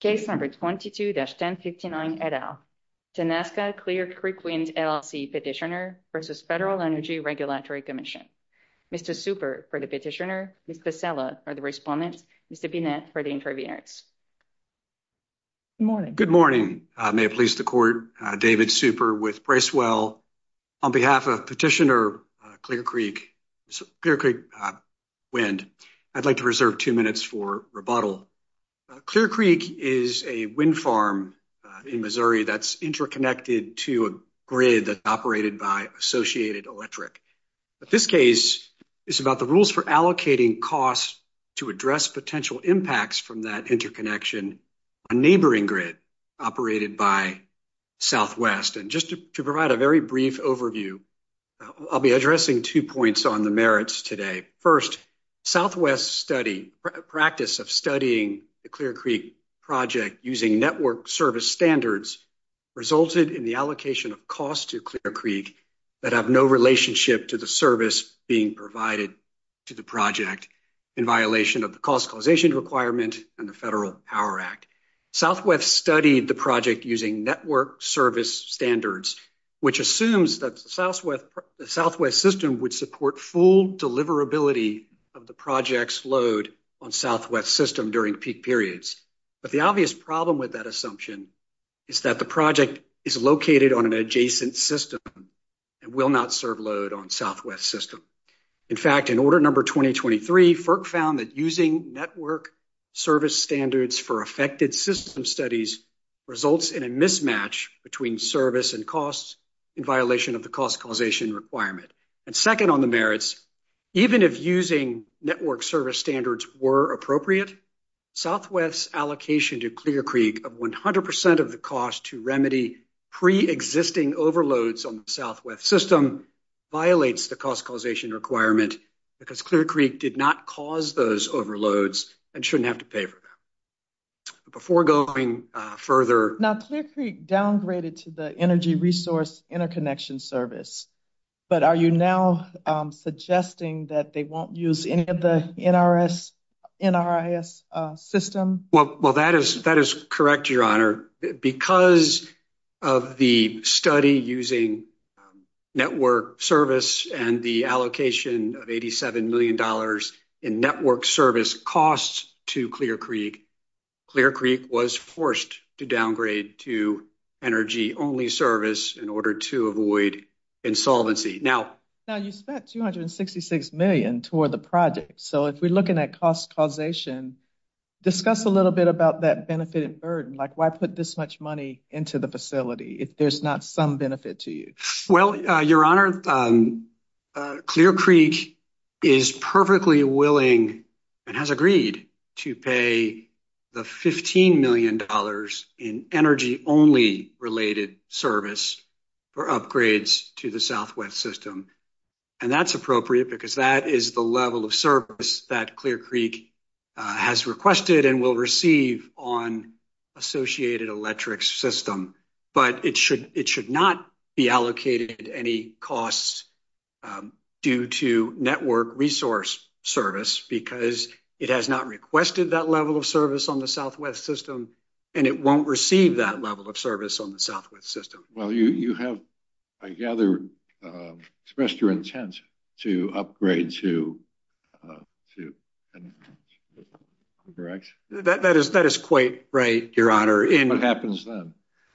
Case number 22-1059 et al. Tanaska Clear Creek Wind, LLC Petitioner versus Federal Energy Regulatory Commission. Mr. Super for the petitioner, Ms. Pasella for the respondent, Mr. Binette for the interveners. Good morning. Good morning. May it please the court, David Super with Bracewell. On behalf of Petitioner Clear Creek Wind, I'd like to is a wind farm in Missouri that's interconnected to a grid that's operated by Associated Electric. But this case is about the rules for allocating costs to address potential impacts from that interconnection, a neighboring grid operated by Southwest. And just to provide a very brief overview, I'll be addressing two points on the merits today. First, Southwest study, practice of studying the Clear Creek project using network service standards resulted in the allocation of costs to Clear Creek that have no relationship to the service being provided to the project in violation of the cost causation requirement and the Federal Power Act. Southwest studied the project using network service standards, which assumes that the Southwest system would support full deliverability of the project's load on Southwest system during peak periods. But the obvious problem with that assumption is that the project is located on an adjacent system and will not serve load on Southwest system. In fact, in order number 2023, FERC found that using network service standards for affected system studies results in a mismatch between service and costs in violation of the cost causation requirement. And second on the merits, even if using network service standards were appropriate, Southwest allocation to Clear Creek of 100% of the cost to remedy pre-existing overloads on the Southwest system violates the cost causation requirement because Clear Creek did not cause those overloads and shouldn't have to the Energy Resource Interconnection Service. But are you now suggesting that they won't use any of the NRIS system? Well, that is correct, Your Honor. Because of the study using network service and the allocation of $87 million in network service costs to Clear Creek, Clear Creek was forced to downgrade to energy-only service in order to avoid insolvency. Now, you spent $266 million toward the project. So if we're looking at cost causation, discuss a little bit about that benefit and burden, like why put this much money into the facility if there's not some benefit to you? Well, Your Honor, Clear Creek is perfectly willing and has agreed to pay the $15 million in energy-only related service for upgrades to the Southwest system. And that's appropriate because that is the level of service that Clear Creek has requested and will receive on associated electric system. But it should not be allocated any costs due to network resource service because it has not requested that level of service on the Southwest system and it won't receive that level of service on the Southwest system. Well, you have, I gather, expressed your intent to upgrade to... Correct. That is quite right, Your Honor. What happens then?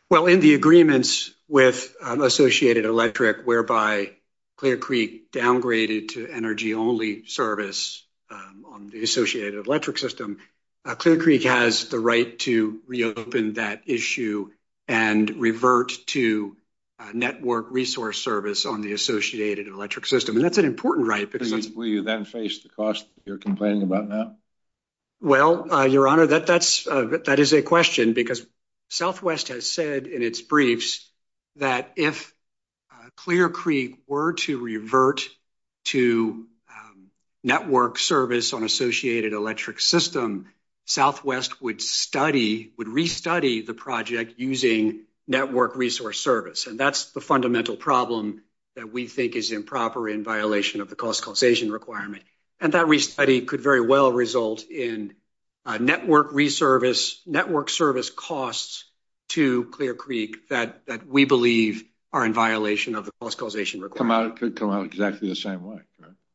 Well, in the agreements with associated electric, whereby Clear Creek downgraded to energy-only service on the associated electric system, Clear Creek has the right to reopen that issue and revert to network resource service on the associated electric system. And that's an important right. Will you then face the cost you're complaining about now? Well, Your Honor, that is a question because Southwest has said in its briefs that if Clear Creek were to revert to network service on associated electric system, Southwest would study, would restudy the project using network resource service. And that's the fundamental problem that we think is improper in violation of the cost causation requirement. And that restudy could very well result in network service costs to Clear Creek that we believe are in violation of the cost causation requirement. It could come out exactly the same way.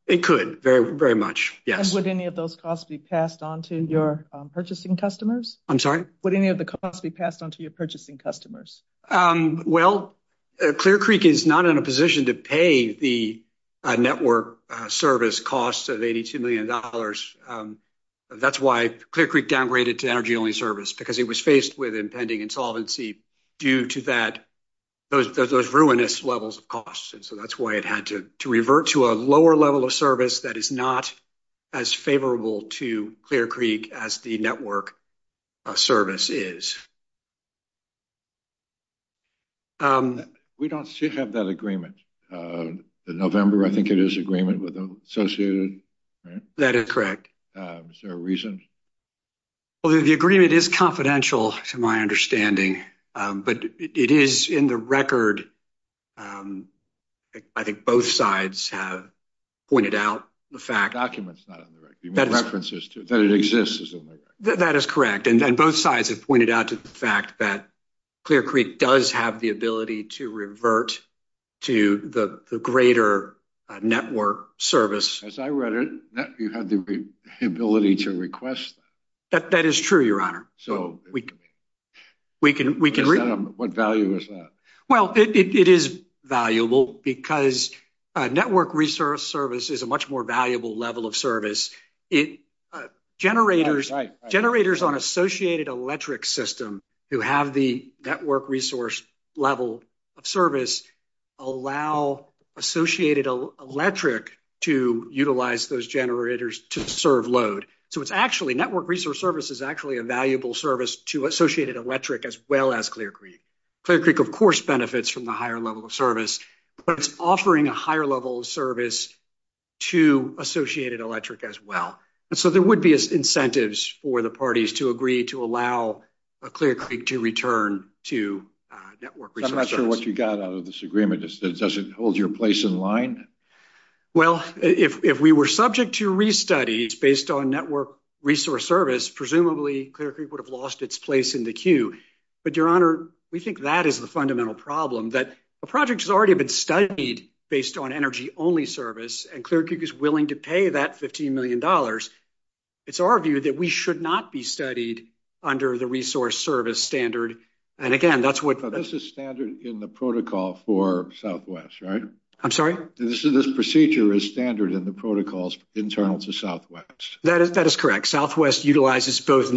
It could, very much. Yes. Would any of those costs be passed on to your purchasing customers? I'm sorry? Would any of the costs be passed on to your purchasing customers? Well, Clear Creek is not in a position to pay the network service costs of $82 million. That's why Clear Creek downgraded to energy-only service, because it was faced with impending insolvency due to that, those ruinous levels of costs. And so that's why it had to revert to a lower level of service that is not as favorable to Clear Creek as the network service is. We don't have that agreement. The November, I think it is agreement with the associated, right? That is correct. Is there a reason? Well, the agreement is confidential to my understanding, but it is in the record. I think both sides have pointed out the fact... Correct. And both sides have pointed out the fact that Clear Creek does have the ability to revert to the greater network service. As I read it, you have the ability to request that. That is true, Your Honor. So, what value is that? Well, it is valuable because network resource is a much more valuable level of service. Generators on associated electric system who have the network resource level of service allow associated electric to utilize those generators to serve load. So, network resource service is actually a valuable service to associated electric as well as Clear Creek. Clear Creek, of course, benefits from the higher level service, but it is offering a higher level of service to associated electric as well. So, there would be incentives for the parties to agree to allow Clear Creek to return to network. I am not sure what you got out of this agreement. Does it hold your place in line? Well, if we were subject to restudy based on network resource service, presumably, Clear Creek would have lost its place in the queue. But, Your Honor, we think that is the study based on energy only service and Clear Creek is willing to pay that $15 million. It is our view that we should not be studied under the resource service standard. This is standard in the protocol for Southwest, right? I am sorry? This procedure is standard in the protocols internal to Southwest. That is correct. Southwest utilizes both approves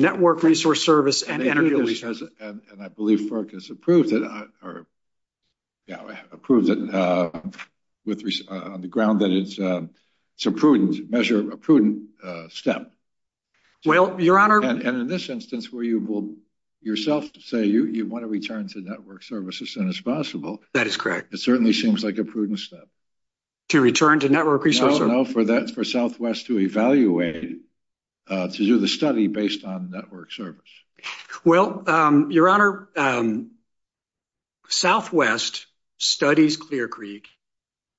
it on the ground that it is a prudent measure, a prudent step. And in this instance, where you will yourself say you want to return to network service as soon as possible, it certainly seems like a prudent step. To return to network resource service? No, for Southwest to evaluate, to do the study based on network service. Well, Your Honor, Southwest studies Clear Creek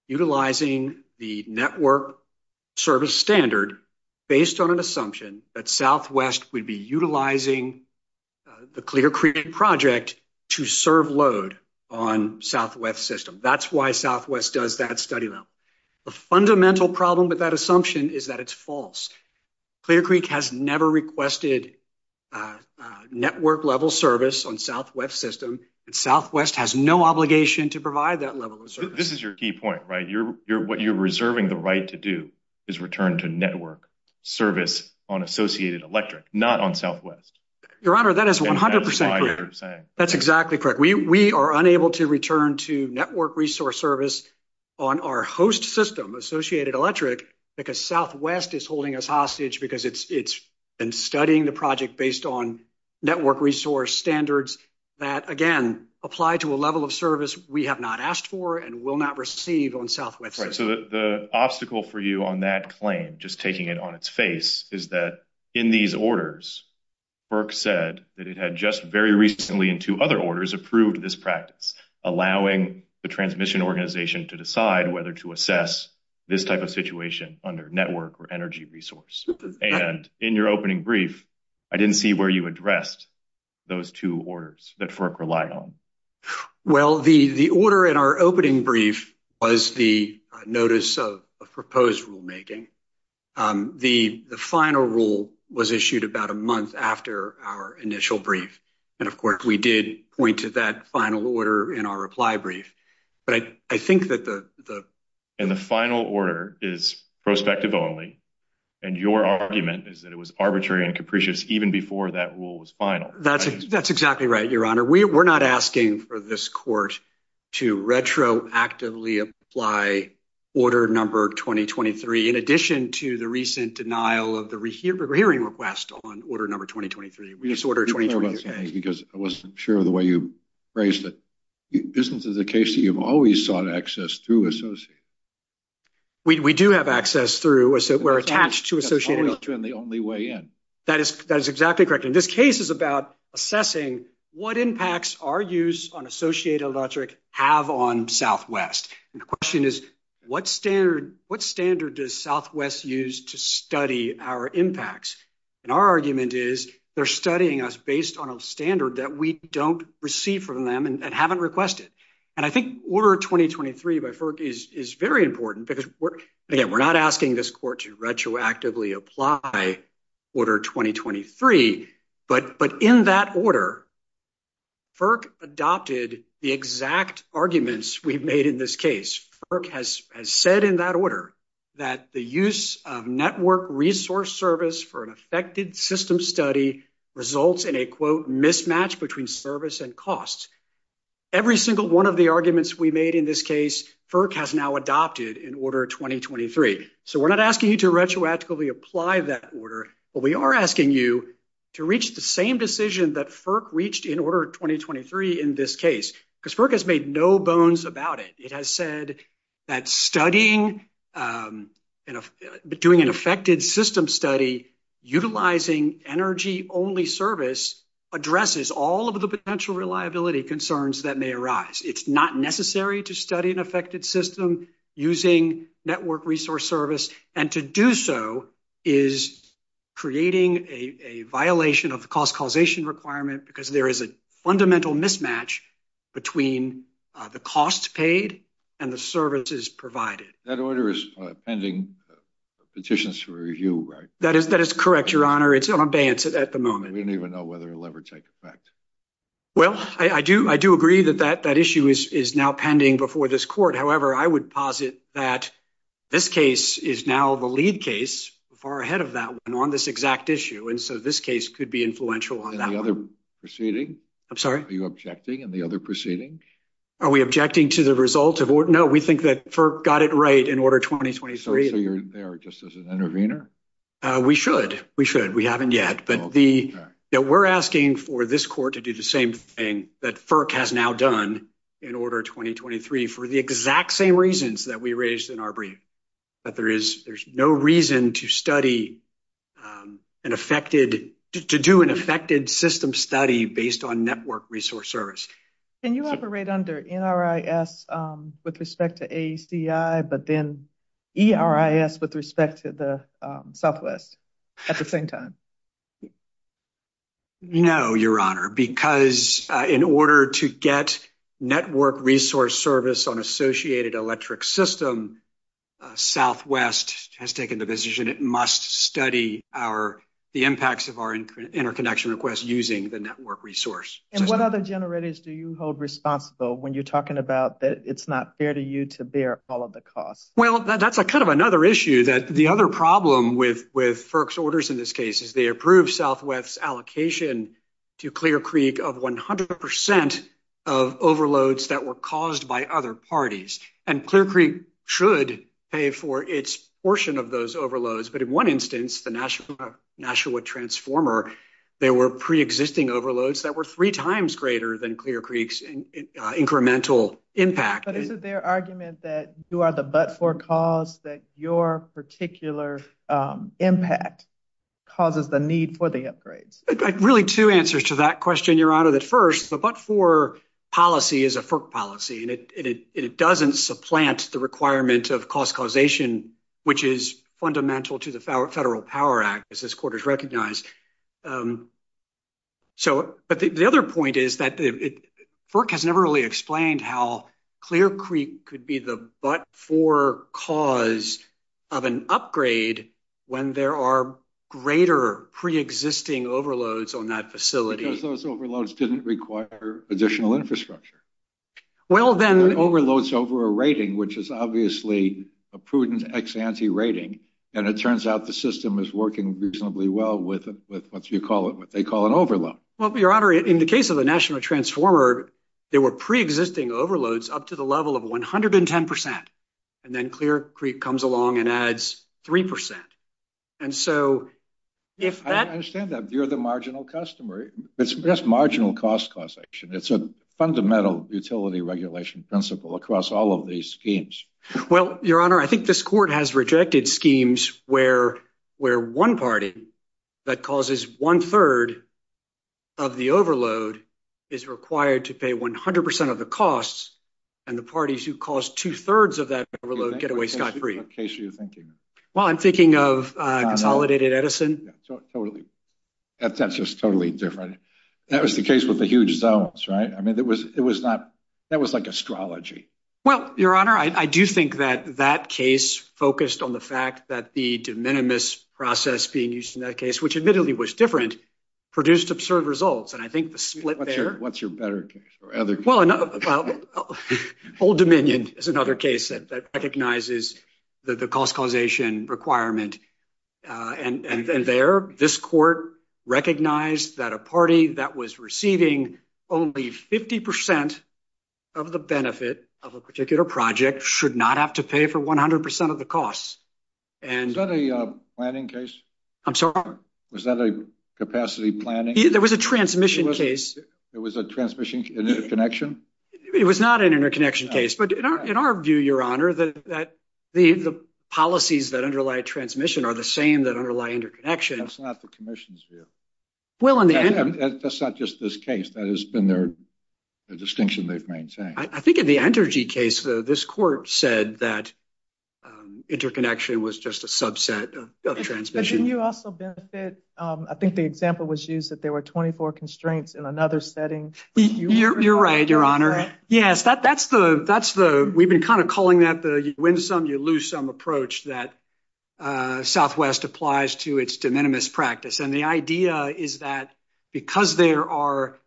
utilizing the network service standard based on an assumption that Southwest would be utilizing the Clear Creek project to serve load on Southwest system. That is why Southwest does that study level. The fundamental problem with that assumption is that it is false. Clear Creek has never requested network level service on Southwest system. Southwest has no obligation to provide that level of service. This is your key point, right? What you are reserving the right to do is return to network service on Associated Electric, not on Southwest. Your Honor, that is 100% correct. That is exactly correct. We are unable to return to network resource service on our host system, Associated Electric, because Southwest is holding us hostage because it has been studying the project based on network resource standards that, again, apply to a level of service we have not asked for and will not receive on Southwest. So the obstacle for you on that claim, just taking it on its face, is that in these orders, Burke said that it had just very recently in two other orders approved this practice, allowing the transmission organization to decide whether to assess this type of situation under network or energy resource. And in your opening brief, I did not see where you addressed those two orders that Burke relied on. Well, the order in our opening brief was the notice of proposed rulemaking. The final rule was issued about a month after our initial brief. And, of course, we did point to that final order in our reply brief. But I think that the... And the final order is prospective only. And your argument is that it was arbitrary and capricious even before that rule was final. That's exactly right, Your Honor. We're not asking for this court to retroactively apply order number 2023 in addition to the recent denial of the hearing request on order number 2023. We just ordered 2023. Because I wasn't sure of the way you phrased it. Isn't it the case that you've always sought access through Associated? We do have access through... We're attached to Associated Electric. And the only way in. That is exactly correct. And this case is about assessing what impacts our use on Associated Electric have on Southwest. And the question is, what standard does Southwest use to study our impacts? And our argument is they're studying us based on a standard that we don't receive from them and haven't requested. And I think order 2023 by Burke is very important because we're... Again, we're not asking this court to retroactively apply order 2023. But in that order, Burke adopted the exact arguments we've made in this case. Burke has said in that order that the use of network resource service for an affected system study results in a, quote, mismatch between service and costs. Every single one of the arguments we made in this case, Burke has now adopted in order 2023. So we're not asking you to retroactively apply that order, but we are asking you to reach the same decision that Burke reached in order 2023 in this case. Because Burke has made no bones about it. It has said that studying, doing an affected system study, utilizing energy only service addresses all of the potential reliability concerns that may arise. It's not necessary to study an affected system using network resource service. And to do so is creating a violation of the cost causation requirement because there is a fundamental mismatch between the costs paid and the services provided. That order is pending petitions for review, right? That is correct, Your Honor. It's on abeyance at the moment. We is now pending before this court. However, I would posit that this case is now the lead case far ahead of that one on this exact issue. And so this case could be influential on the other proceeding. I'm sorry. Are you objecting in the other proceeding? Are we objecting to the result of what? No, we think that FERC got it right in order 2023. So you're there just as an intervener. We should. We should. We haven't yet. But we're asking for this court to do the same thing that FERC has now done in order 2023 for the exact same reasons that we raised in our brief. That there is, there's no reason to study an affected, to do an affected system study based on network resource service. Can you operate under NRIS with respect to ACI, but then get network resource service on associated electric system? Southwest has taken the decision. It must study our, the impacts of our interconnection requests using the network resource. And what other generators do you hold responsible when you're talking about that it's not fair to you to bear all of the costs? Well, that's a kind of another issue that the other problem with, with FERC's orders in this case is they approved Southwest's allocation to Clear Creek. And that's a percent of overloads that were caused by other parties. And Clear Creek should pay for its portion of those overloads. But in one instance, the Nashua, Nashua transformer, they were preexisting overloads that were three times greater than Clear Creek's incremental impact. But is it their argument that you are the but-for cause that your particular impact causes the need for the upgrades? Really two answers to that question, Your Honor, that first, the but-for policy is a FERC policy and it doesn't supplant the requirement of cost causation, which is fundamental to the Federal Power Act as this court has recognized. So, but the other point is that FERC has never really explained how Clear Creek could be the but-for cause of an upgrade when there are greater preexisting overloads on that facility. Because those overloads didn't require additional infrastructure. Well, then... There are overloads over a rating, which is obviously a prudent ex-ante rating. And it turns out the system is working reasonably well with, with what you call it, what they call an overload. Well, Your Honor, in the case of the Nashua transformer, there were preexisting overloads up to the level of 110 percent. And then Clear Creek comes along and adds three percent. And so, if that... I understand that you're the marginal customer. It's just marginal cost causation. It's a fundamental utility regulation principle across all of these schemes. Well, Your Honor, I think this court has rejected schemes where, where one party that causes one percent of the costs and the parties who cause two-thirds of that overload get away scot-free. What case are you thinking of? Well, I'm thinking of Consolidated Edison. Yeah, totally. That's just totally different. That was the case with the huge zones, right? I mean, it was, it was not... That was like astrology. Well, Your Honor, I do think that that case focused on the fact that the de minimis process being used in that case, which admittedly was different, produced absurd results. And I think the split there... What's your better case or other case? Well, Old Dominion is another case that recognizes the cost causation requirement. And there, this court recognized that a party that was receiving only 50 percent of the benefit of a particular project should not have to pay for 100 percent of the costs. And... Was that a planning case? I'm sorry? Was that a capacity planning? There was a transmission case. There was a transmission, an interconnection? It was not an interconnection case. But in our view, Your Honor, that the policies that underlie transmission are the same that underlie interconnection. That's not the commission's view. Well, in the end... That's not just this case. That has been their distinction they've maintained. I think in the Entergy case, though, this court said that interconnection was just a subset of transmission. But didn't you also benefit... I think the example was used that there were 24 constraints in another setting. You're right, Your Honor. Yes, that's the... We've been kind of calling that the win some, you lose some approach that Southwest applies to its de minimis practice. And the idea is that because there are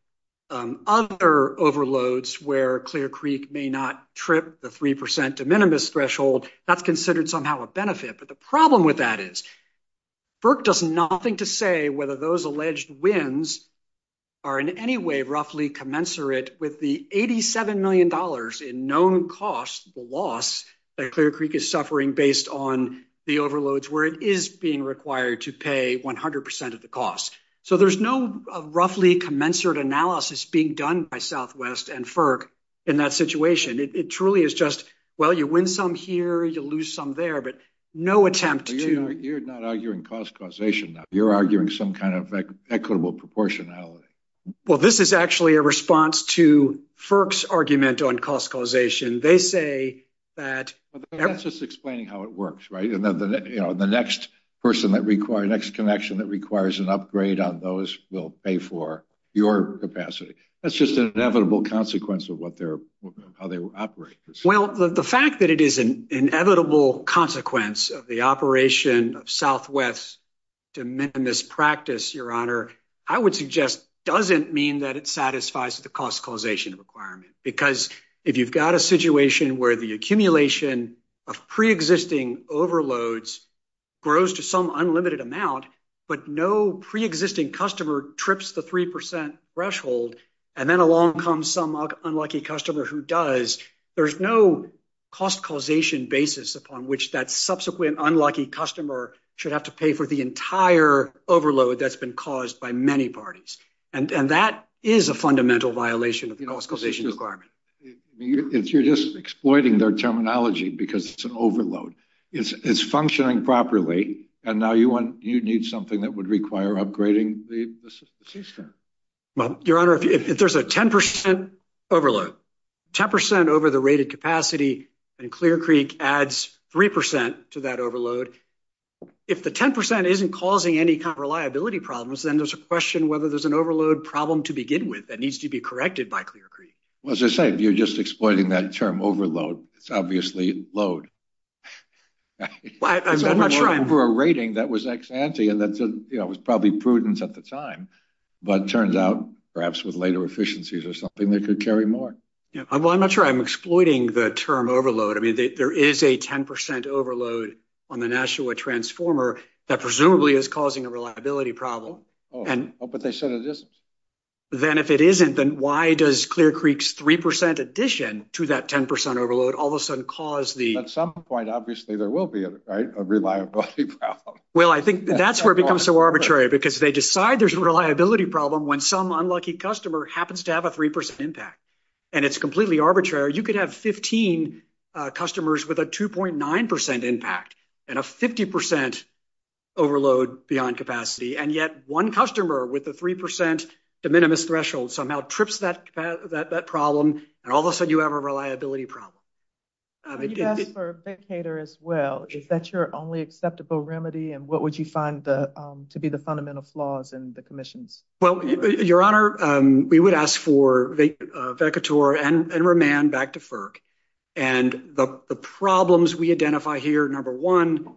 other overloads where Clear Creek may not trip the 3 percent de minimis threshold, that's considered somehow a benefit. But the problem with that is that FERC does nothing to say whether those alleged wins are in any way roughly commensurate with the $87 million in known costs, the loss that Clear Creek is suffering based on the overloads where it is being required to pay 100 percent of the cost. So there's no roughly commensurate analysis being done by Southwest and FERC in that situation. It truly is just, well, you win some here, you lose some there, but no attempt to... You're arguing some kind of equitable proportionality. Well, this is actually a response to FERC's argument on cost causation. They say that... That's just explaining how it works, right? And the next person that requires... Next connection that requires an upgrade on those will pay for your capacity. That's just an inevitable consequence of how they operate. Well, the fact that it is an inevitable consequence of the operation of Southwest de minimis practice, Your Honor, I would suggest doesn't mean that it satisfies the cost causation requirement. Because if you've got a situation where the accumulation of preexisting overloads grows to some unlimited amount, but no preexisting customer trips the 3 percent threshold, and then along comes some unlucky customer who does, there's no cost causation basis upon which that subsequent unlucky customer should have to pay for the entire overload that's been caused by many parties. And that is a fundamental violation of the cost causation requirement. You're just exploiting their terminology because it's an overload. It's functioning properly, and now you need something that would require upgrading the system. Well, Your Honor, if there's a 10 percent overload, 10 percent over the rated capacity, and Clear Creek adds 3 percent to that overload, if the 10 percent isn't causing any kind of reliability problems, then there's a question whether there's an overload problem to begin with that needs to be corrected by Clear Creek. Well, as I said, you're just exploiting that term overload. It's obviously load. Well, I'm not sure I'm... And that was probably prudence at the time, but it turns out perhaps with later efficiencies or something, they could carry more. Yeah. Well, I'm not sure I'm exploiting the term overload. I mean, there is a 10 percent overload on the Nashua Transformer that presumably is causing a reliability problem. Oh, but they said it isn't. Then if it isn't, then why does Clear Creek's 3 percent addition to that 10 percent overload all of a sudden cause the... At some point, obviously, there will be a reliability problem. Well, I think that's where it becomes so arbitrary because they decide there's a reliability problem when some unlucky customer happens to have a 3 percent impact, and it's completely arbitrary. You could have 15 customers with a 2.9 percent impact and a 50 percent overload beyond capacity, and yet one customer with a 3 percent de minimis threshold somehow trips that problem, and all of a sudden you have a reliability problem. You asked for a vacator as well. Is that your only acceptable remedy, and what would you find to be the fundamental flaws in the commissions? Well, Your Honor, we would ask for a vacator and remand back to FERC. And the problems we identify here, number one,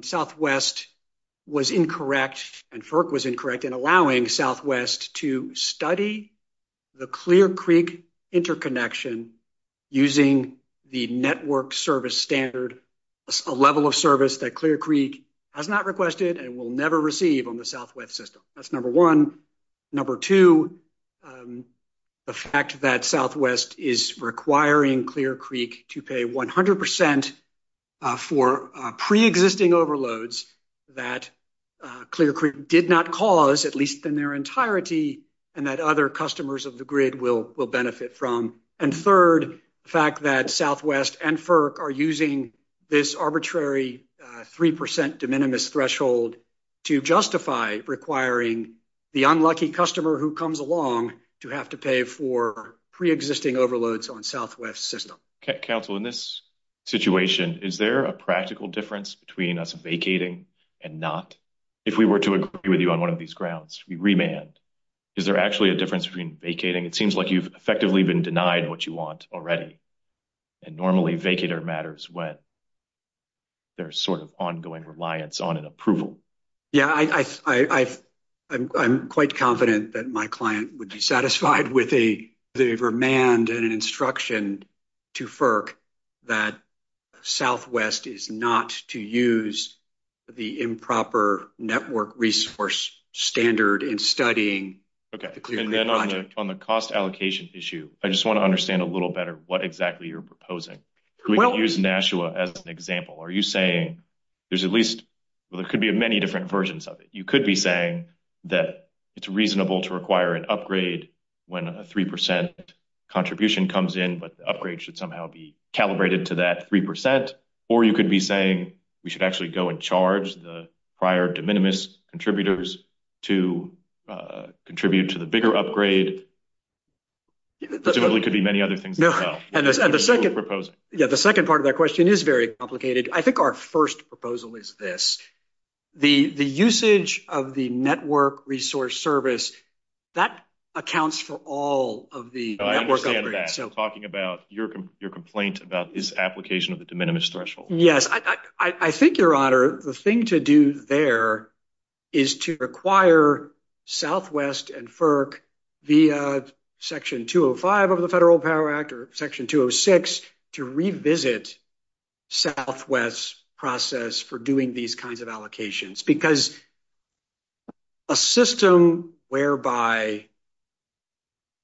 Southwest was incorrect, and FERC was incorrect in allowing Southwest to study the Clear Creek interconnection using the network service standard, a level of service that Clear Creek has not requested and will never receive on the Southwest system. That's number one. Number two, the fact that Southwest is requiring Clear Creek to pay 100 percent for preexisting overloads that Clear Creek did not cause, at least in their entirety, and that other customers of the grid will benefit from. And third, the fact that Southwest and FERC are using this arbitrary 3 percent de minimis threshold to justify requiring the unlucky customer who comes along to have to pay for preexisting overloads on Southwest's system. Counsel, in this situation, is there a practical difference between us vacating and not? If we were to agree with you on one of these grounds, the remand, is there actually a difference between vacating? It seems like you've effectively been denied what you want already. And normally, vacator matters when there's sort of ongoing reliance on an approval. Yeah, I'm quite confident that my client would be satisfied with a remand and an instruction to FERC that Southwest is not to use the improper network resource standard in studying Okay, and then on the cost allocation issue, I just want to understand a little better what exactly you're proposing. We can use Nashua as an example. Are you saying there's at least, well, there could be many different versions of it. You could be saying that it's reasonable to upgrade should somehow be calibrated to that 3 percent, or you could be saying we should actually go and charge the prior de minimis contributors to contribute to the bigger upgrade. Presumably could be many other things as well. And the second part of that question is very complicated. I think our first proposal is this. The usage of the network resource service, that accounts for all of the network upgrade. I understand that. I'm talking about your complaint about this application of the de minimis threshold. Yes, I think, Your Honor, the thing to do there is to require Southwest and FERC via Section 205 of the Federal Power Act or Section 206 to revisit Southwest's process for doing these kinds of allocations. Because a system whereby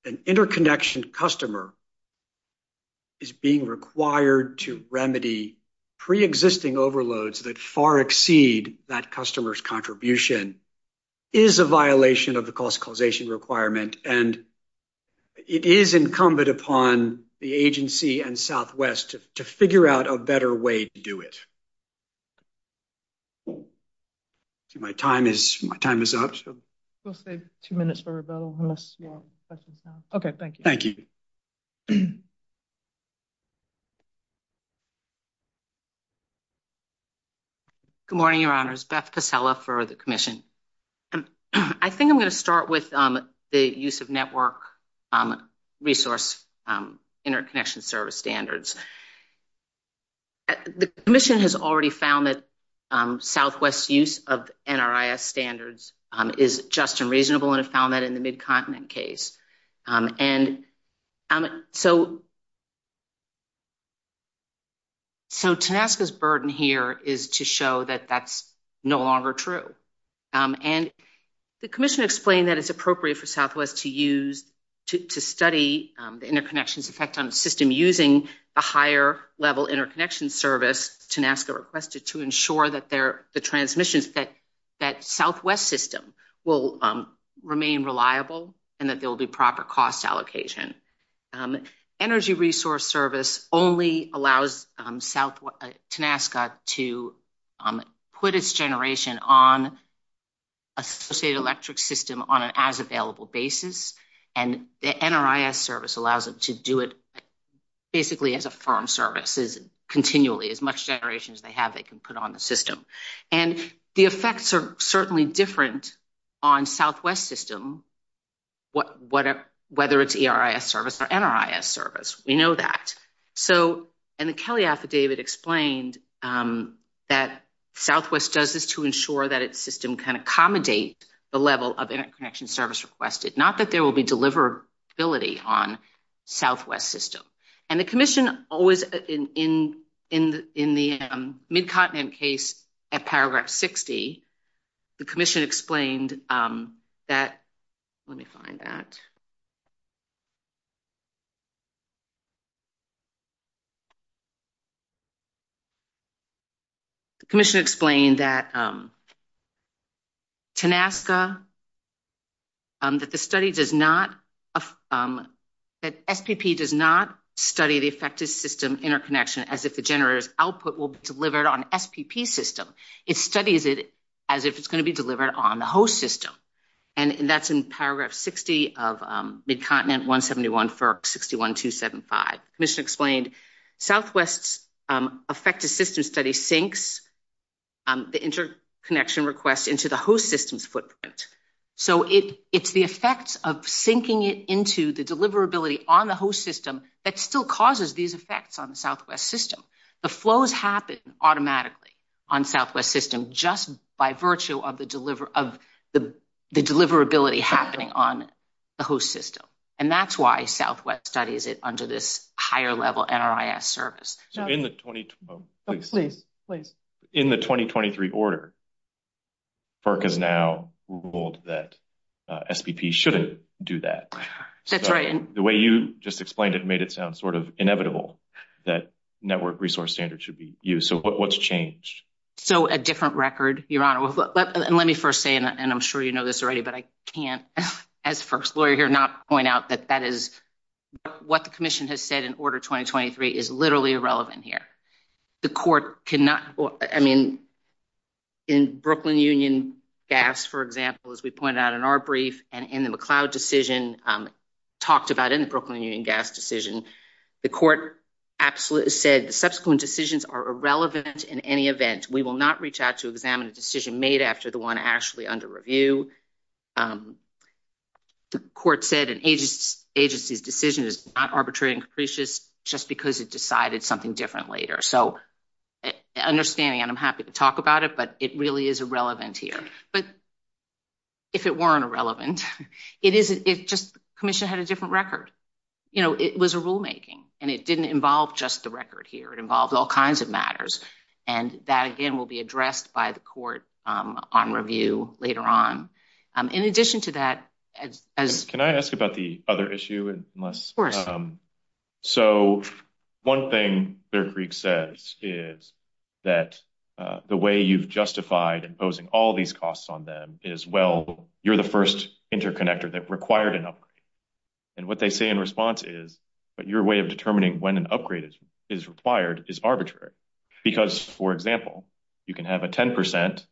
an interconnection customer is being required to remedy pre-existing overloads that far exceed that customer's contribution is a violation of the cost causation requirement, and it is incumbent upon the agency and Southwest to figure out a better way to do it. See, my time is up. We'll save two minutes for rebuttal unless you have questions now. Okay, thank you. Good morning, Your Honors. Beth Casella for the Commission. I think I'm going to start with the use of network resource interconnection service standards. The Commission has already found that Southwest's use of NRIS standards is just and reasonable, and it found that in the Mid-Continent case. And so, so TANASCA's burden here is to show that that's no longer true. And the Commission explained that it's appropriate for Southwest to use, to study the interconnections effect on a system using the higher-level interconnection service TANASCA requested to ensure that the transmissions, that Southwest system will remain reliable and that there will be proper cost allocation. Energy Resource Service only allows TANASCA to put its generation on associated electric system on an as-available basis, and the NRIS service allows it to do it basically as a firm service, as continually, as much generation as they have, they can put on the system. And the effects are certainly different on Southwest system, whether it's ERIS service or NRIS service. We know that. So, and the Kelly affidavit explained that Southwest does this to ensure that its system can accommodate the level of interconnection service requested, not that there will be deliverability on Southwest system. And the Commission always, in the Mid-Continent case at paragraph 60, the Commission explained that, let me find that. The Commission explained that TANASCA, that the study does not, that SPP does not study the effected system interconnection as if the generator's output will be delivered on SPP system. It studies it as if it's going to be delivered on the host system. And that's in Mid-Continent 171 for 61-275. The Commission explained Southwest's effective system study sinks the interconnection request into the host system's footprint. So, it's the effects of sinking it into the deliverability on the host system that still causes these effects on the Southwest system. The flows happen automatically on Southwest system just by virtue of the deliverability happening on the host system. And that's why Southwest studies it under this higher level NRIS service. So, in the 2020, oh, please, please. In the 2023 order, FERC has now ruled that SPP shouldn't do that. That's right. The way you just explained it made it sound sort of inevitable that network resource standards should be used. So, what's changed? So, a different record, Your Honor. And let me first say, and I'm sure you know this already, but I can't, as first lawyer here, not point out that that is what the Commission has said in order 2023 is literally irrelevant here. The court cannot, I mean, in Brooklyn Union Gas, for example, as we pointed out in our brief and in the McLeod decision, talked about in the Brooklyn Union Gas decision, the court said the subsequent decisions are irrelevant in any event. We will not reach out to examine a decision made after the one actually under review. The court said an agency's decision is not arbitrary and capricious just because it decided something different later. So, understanding, and I'm happy to talk about it, but it really is irrelevant here. But if it weren't irrelevant, it just, the Commission had a different record. You know, it was a rulemaking, and it didn't involve just the record here. It involved all the decisions that, again, will be addressed by the court on review later on. In addition to that, Can I ask about the other issue? So, one thing Bear Creek says is that the way you've justified imposing all these costs on them is, well, you're the first interconnector that required an upgrade. And what they say in response is, but your way of determining when an upgrade is required is you can have a 10%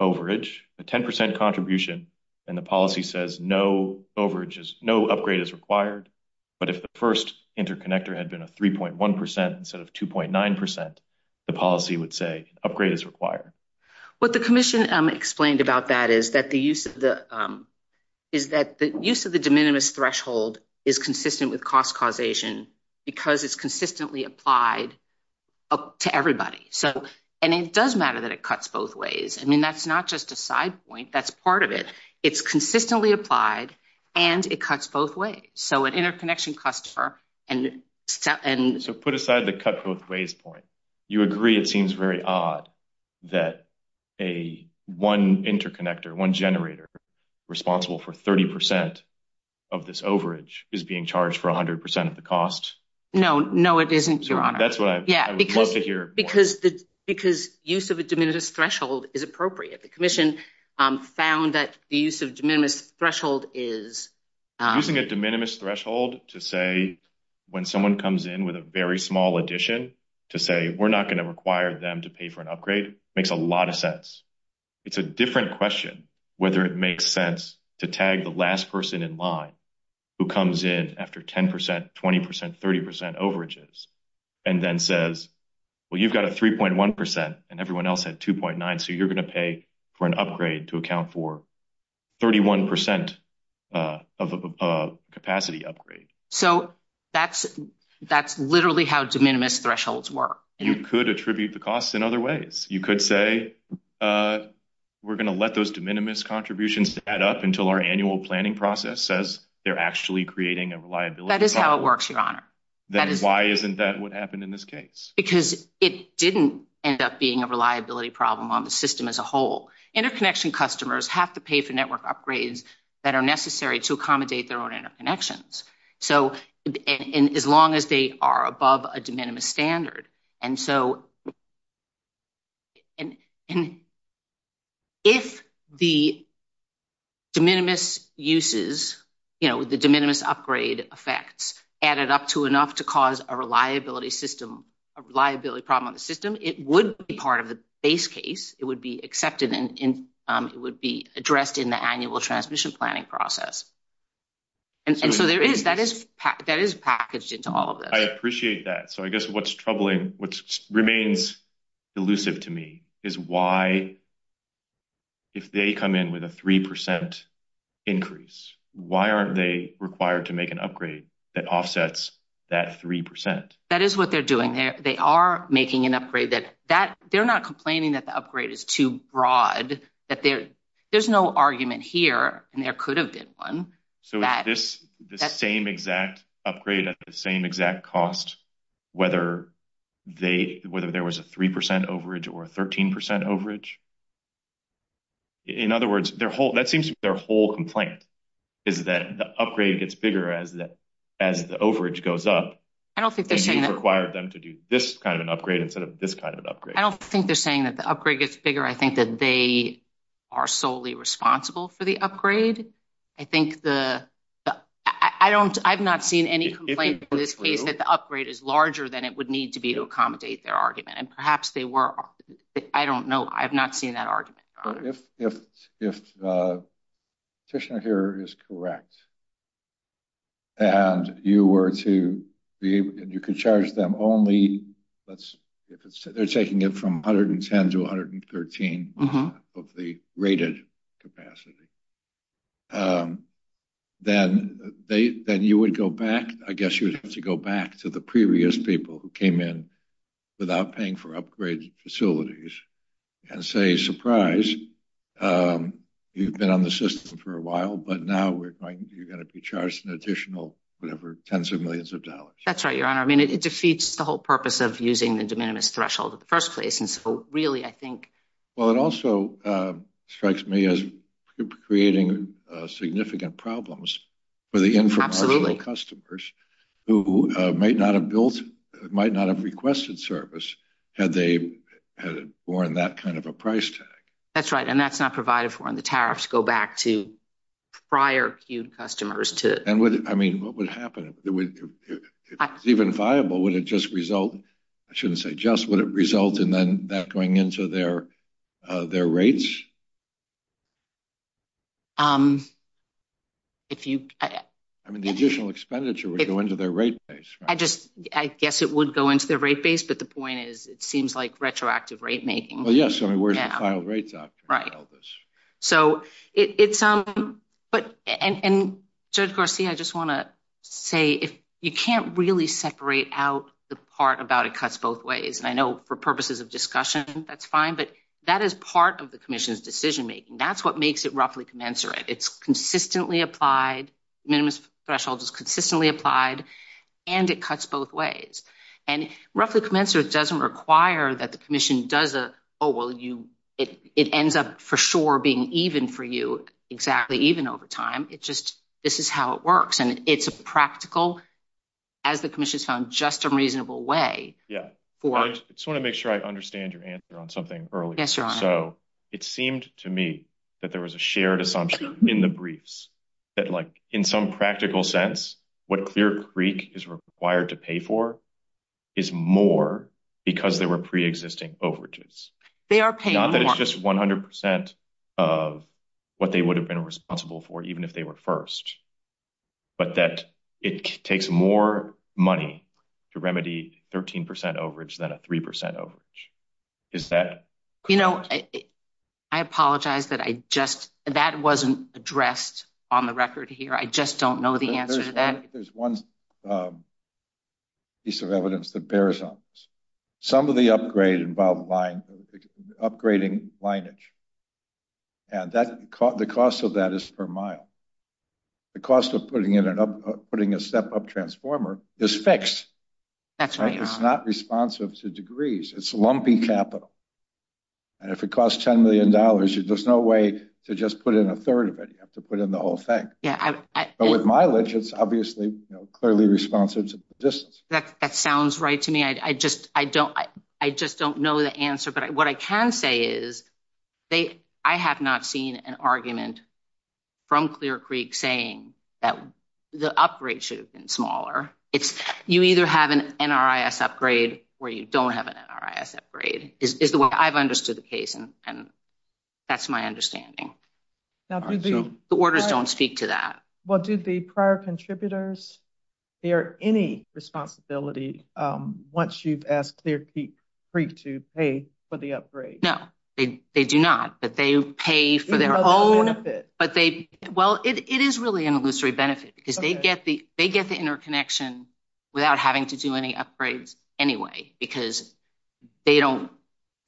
overage, a 10% contribution, and the policy says no overage, no upgrade is required. But if the first interconnector had been a 3.1% instead of 2.9%, the policy would say upgrade is required. What the Commission explained about that is that the use of the de minimis threshold is consistent with cost causation because it's consistently applied to everybody. So, and it does matter that it cuts both ways. I mean, that's not just a side point. That's part of it. It's consistently applied, and it cuts both ways. So, an interconnection customer and... So, put aside the cut both ways point, you agree it seems very odd that a one interconnector, one generator responsible for 30% of this overage is being charged for 100% of the overage. Yeah, because use of a de minimis threshold is appropriate. The Commission found that the use of de minimis threshold is... Using a de minimis threshold to say when someone comes in with a very small addition to say we're not going to require them to pay for an upgrade makes a lot of sense. It's a different question whether it makes sense to tag the last person in line who comes in after 10%, 20%, 30% overages and then says, well, you've got a 3.1% and everyone else had 2.9. So, you're going to pay for an upgrade to account for 31% of a capacity upgrade. So, that's literally how de minimis thresholds work. You could attribute the costs in other ways. You could say we're going to let those de minimis contributions add up until our annual planning process says they're actually creating a reliability problem. That is how it works, Your Honor. Then why isn't that what happened in this case? Because it didn't end up being a reliability problem on the system as a whole. Interconnection customers have to pay for network upgrades that are necessary to accommodate their own interconnections. So, as long as they are above a de minimis standard. And so, if the de minimis uses, you know, the de minimis upgrade effects added up to enough to cause a reliability system, a reliability problem on the system, it would be part of the base case. It would be accepted and it would be addressed in the annual transmission planning process. And so, there is, that is packaged into all of this. I appreciate that. So, I guess what's troubling, what remains elusive to me is why, if they come in with a 3% increase, why aren't they required to make an upgrade that offsets that 3%? That is what they're doing. They are making an upgrade. They're not complaining that the upgrade is too broad. There's no argument here, and there could have been one. So, is this the same exact upgrade at the same exact cost, whether there was a 3% overage or a 13% overage? In other words, that seems to be their whole complaint, is that the upgrade gets bigger as the overage goes up. And you've required them to do this kind of an upgrade instead of this kind of an upgrade. I don't think they're saying that the upgrade gets bigger. I think that they are solely responsible for the upgrade. I think the, I don't, I've not seen any complaint in this case that the upgrade is larger than it would need to be to accommodate their argument. And perhaps they were. I don't know. I've not seen that argument. If the petitioner here is correct, and you were to be, you could charge them only, let's, if it's, they're taking it from 110 to 113 of the rated capacity, then they, then you would go back, I guess you would have to go back to the previous people who came in without paying for upgrade facilities and say, surprise, you've been on the system for a while, but now we're going, you're going to be charged an additional, whatever, tens of millions of dollars. That's right, your honor. I mean, it defeats the whole purpose of using the de minimis threshold in the first place. And so really, I think, well, it also strikes me as creating a significant problems for the infomercial customers who might not have built, might not have requested service had they had more in that kind of a price tag. That's right. And that's not provided for in the tariffs go back to prior cued customers to, I mean, what would happen if it's even viable, would it just result? I shouldn't say just, would it result in then that going into their, their rates? If you, I mean, the additional expenditure would go into their rate base. I just, I guess it would go into their rate base, but the point is, it seems like retroactive rate making. Well, yes. I mean, where's the file rates out? Right. So it's, but, and judge Garcia, I just want to say, if you can't really separate out the part about, it cuts both ways. And I know for purposes of discussion, that's fine, but that is part of the commission's decision-making. That's what makes it roughly commensurate. It's consistently applied. Minimum threshold is consistently applied and it cuts both ways and roughly commensurate. It doesn't require that the commission does a, oh, well you, it, it ends up for sure being even for you exactly even over time. It just, this is how it works. And it's a practical, as the commission's found just a reasonable way. Yeah. I just want to make sure I understand your answer on something earlier. So it seemed to me that there was a shared assumption in the briefs that like in some practical sense, what Clear Creek is required to pay for is more because they were pre-existing overages. They are paying more. Not that it's just 100% of what they would have been responsible for, even if they were first, but that it takes more money to remedy 13% overage than a 3% overage. Is that correct? You know, I apologize that I just, that wasn't addressed on the record here. I just don't know the answer to that. There's one piece of evidence that bears on this. Some of the upgrade involved line, upgrading lineage. And that the cost of that is per mile. The cost of putting in an up, putting a step up transformer is fixed. That's right. It's not responsive to degrees. It's lumpy capital. And if it costs $10 million, there's no way to just put in a third of it. You have to put in the whole thing. But with mileage, it's obviously, you know, clearly responsive to distance. That sounds right to me. I just, I don't, I just don't know the answer, but what I can say is they, I have not seen an argument from Clear Creek saying that the upgrade should have been smaller. It's you either have an NRIS upgrade or you don't have an NRIS upgrade is the way I've understood the case. And that's my understanding. Now, the orders don't speak to that. Well, do the prior contributors bear any responsibility once you've asked Clear Creek to pay for the upgrade? No, they do not, but they pay for their own, but they, well, it is really an illusory benefit because they get the interconnection without having to do any upgrades anyway, because they don't,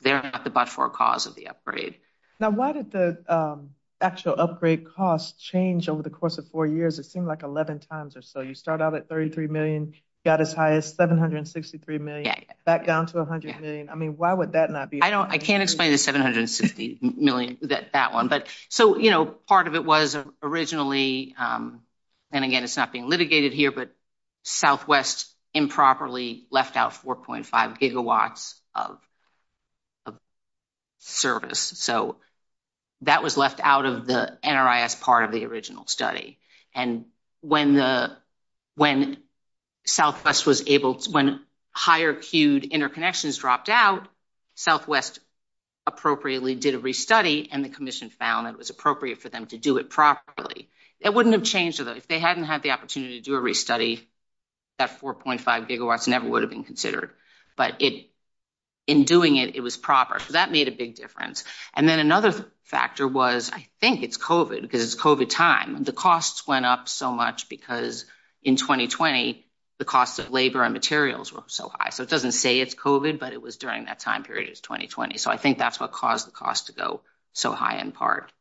they're not the but-for cause of the upgrade. Now, why did the actual upgrade cost change over the course of four years? It seemed like 11 times or so. You start out at $33 million, got as high as $763 million, back down to $100 million. I mean, why would that not be? I don't, I can't explain the $760 million, that one. But so, you know, part of it was originally, and again, it's not being litigated here, but Southwest improperly out 4.5 gigawatts of service. So that was left out of the NRIS part of the original study. And when the, when Southwest was able to, when higher queued interconnections dropped out, Southwest appropriately did a restudy, and the commission found it was appropriate for them to do it properly. It wouldn't have changed, if they hadn't had the opportunity to do a restudy, that 4.5 gigawatts never would have been considered. But it, in doing it, it was proper. So that made a big difference. And then another factor was, I think it's COVID, because it's COVID time. The costs went up so much, because in 2020, the cost of labor and materials were so high. So it doesn't say it's COVID, but it was during that time period, it's 2020. So I think that's what caused the cost to go so high in part.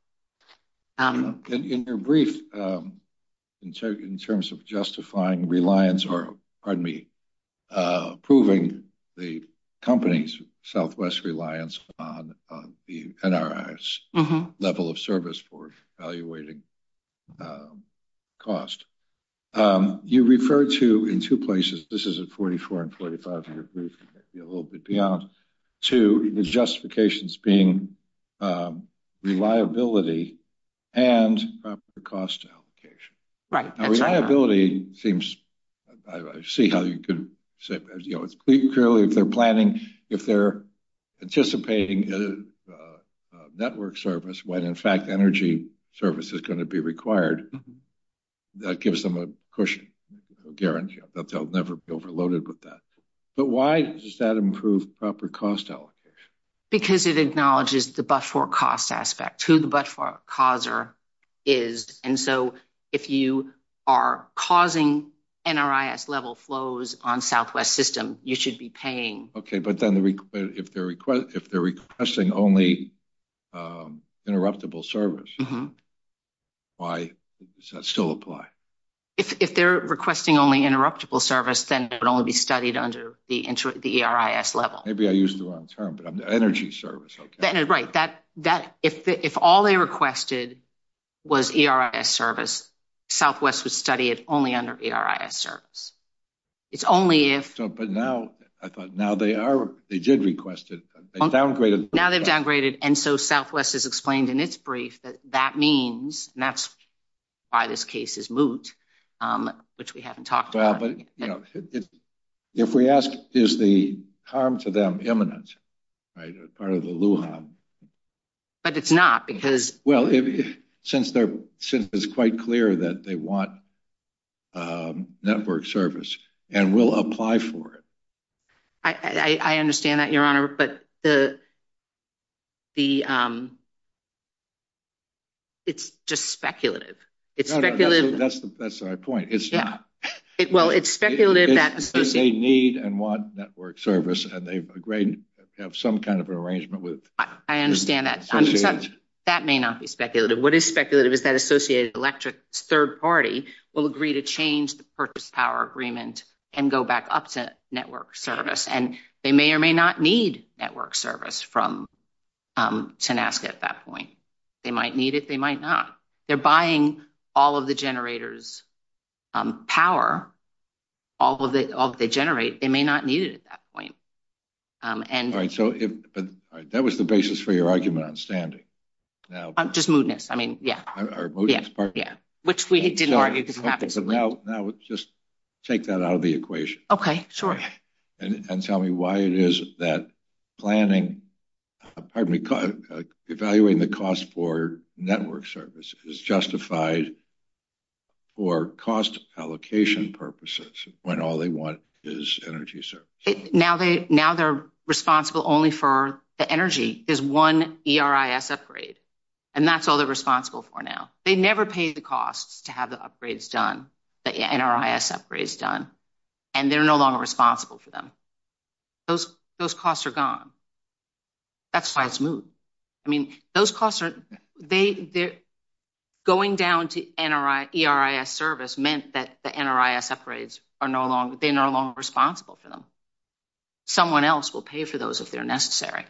And in your brief, in terms of justifying reliance, or pardon me, proving the company's Southwest reliance on the NRIS level of service for evaluating cost, you refer to in two places, this is a 44 and 45 year brief, a little bit beyond, to the justifications being reliability and proper cost allocation. Right. Reliability seems, I see how you could say, you know, it's clearly if they're planning, if they're anticipating a network service, when in fact energy service is going to be required, that gives them a cushion, a guarantee that they'll never be overloaded with that. But why does that improve proper cost allocation? Because it acknowledges the but-for-cost aspect, who the but-for-causer is. And so if you are causing NRIS level flows on Southwest system, you should be paying. Okay, but then if they're requesting only interruptible service, why does that still apply? If they're requesting only interruptible service, then it would only be studied under the NRIS level. Maybe I used the wrong term, energy service. Right, if all they requested was NRIS service, Southwest would study it only under NRIS service. It's only if... But now, I thought, now they are, they did request it, they've downgraded... Now they've downgraded, and so Southwest has explained in its brief that that means, and that's why this case is moot, which we haven't talked about. If we ask, is the harm to eminence, right, as part of the Lujan? But it's not, because... Well, since it's quite clear that they want network service and will apply for it. I understand that, Your Honor, but the, it's just speculative. It's speculative... No, no, that's the right point. It's not. They need and want network service, and they've agreed to have some kind of arrangement with... I understand that. That may not be speculative. What is speculative is that Associated Electric's third party will agree to change the purchase power agreement and go back up to network service, and they may or may not need network service from Tenasca at that point. They might need it, power, all that they generate, they may not need it at that point. All right, so that was the basis for your argument on standing. Just mootness, I mean, yeah. Our mootness part, yeah. Which we didn't argue, because it happens... Now, just take that out of the equation. Okay, sure. And tell me why it is that planning, pardon me, evaluating the cost for network service is cost allocation purposes, when all they want is energy service? Now they're responsible only for the energy. There's one ERIS upgrade, and that's all they're responsible for now. They never pay the costs to have the upgrades done, the NRIS upgrades done, and they're no longer responsible for them. Those costs are gone. That's why it's moot. I mean, those costs are... Going down to ERIS service meant that the NRIS upgrades are no longer... They're no longer responsible for them. Someone else will pay for those if they're necessary.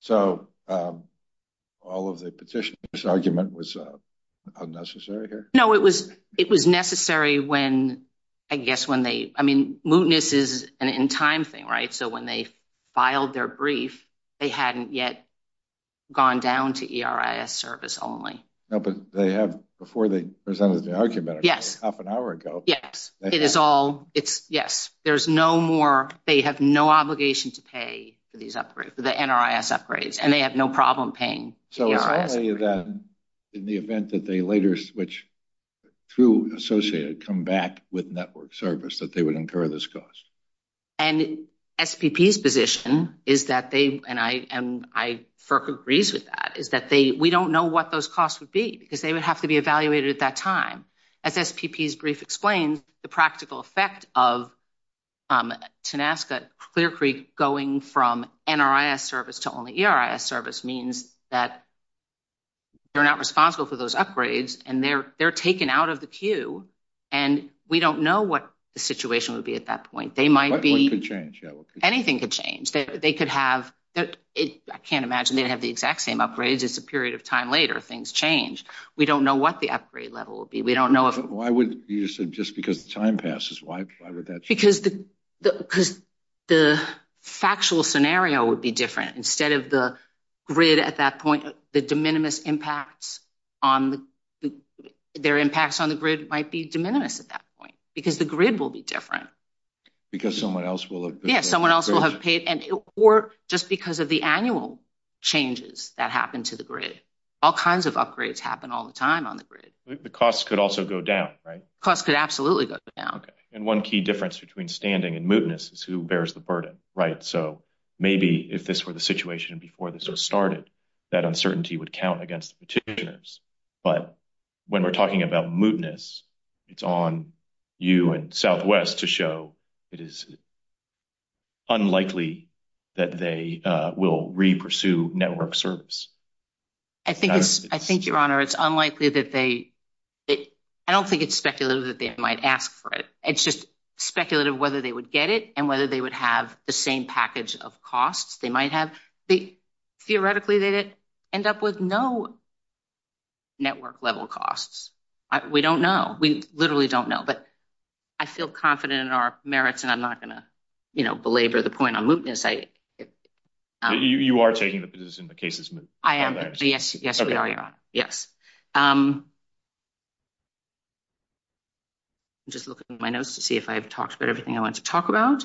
So, all of the petitioner's argument was unnecessary here? No, it was necessary when, I guess when they... I mean, mootness is an in-time thing, right? When they filed their brief, they hadn't yet gone down to ERIS service only. No, but they have, before they presented the argument half an hour ago... Yes, it is all... Yes, there's no more... They have no obligation to pay for these upgrades, for the NRIS upgrades, and they have no problem paying. So, it's only then, in the event that they later switch through Associated, come back with network service, that they would incur this cost? And SPP's position is that they, and FERC agrees with that, is that we don't know what those costs would be, because they would have to be evaluated at that time. As SPP's brief explained, the practical effect of TANASCA Clear Creek going from NRIS service to only ERIS service means that they're not responsible for those upgrades, and they're taken out of the queue, and we don't know what the situation would be at that point. They might be... What could change? Anything could change. They could have... I can't imagine they'd have the exact same upgrades. It's a period of time later, things change. We don't know what the upgrade level would be. We don't know if... Why would, you said, just because the time passes, why would that change? Because the factual scenario would be different. Instead of the grid at that point, the de minimis impacts on the... Their impacts on the grid might be de minimis at that point, because the grid will be different. Because someone else will have... Yeah, someone else will have paid... Or just because of the annual changes that happen to the grid. All kinds of upgrades happen all the time on the grid. The costs could also go down, right? Costs could absolutely go down. And one key difference between standing and mootness is who bears the burden, right? So would count against the petitioners. But when we're talking about mootness, it's on you and Southwest to show it is unlikely that they will re-pursue network service. I think, Your Honor, it's unlikely that they... I don't think it's speculative that they might ask for it. It's just speculative whether they would get it and whether they would have the same package of costs they might have. Theoretically, they'd end up with no network level costs. We don't know. We literally don't know. But I feel confident in our merits, and I'm not going to belabor the point on mootness. You are taking the position the case is moot? I am. Yes, we are, Your Honor. Yes. Just looking at my notes to see if I've talked about everything I want to talk about.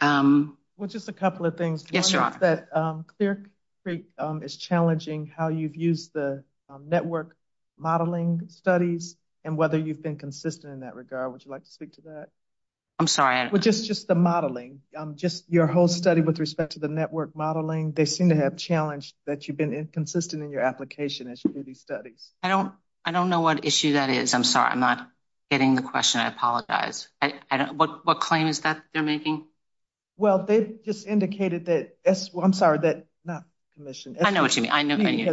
Well, just a couple of things. Yes, Your Honor. That Clear Creek is challenging how you've used the network modeling studies and whether you've been consistent in that regard. Would you like to speak to that? I'm sorry. Well, just the modeling, just your whole study with respect to the network modeling, they seem to have challenged that you've been inconsistent in your application as you do these studies. I don't know what issue that is. I'm sorry. I'm not getting the question. I apologize. What claim is that they're making? Well, they've just indicated that – I'm sorry, not commissioned. I know what you mean.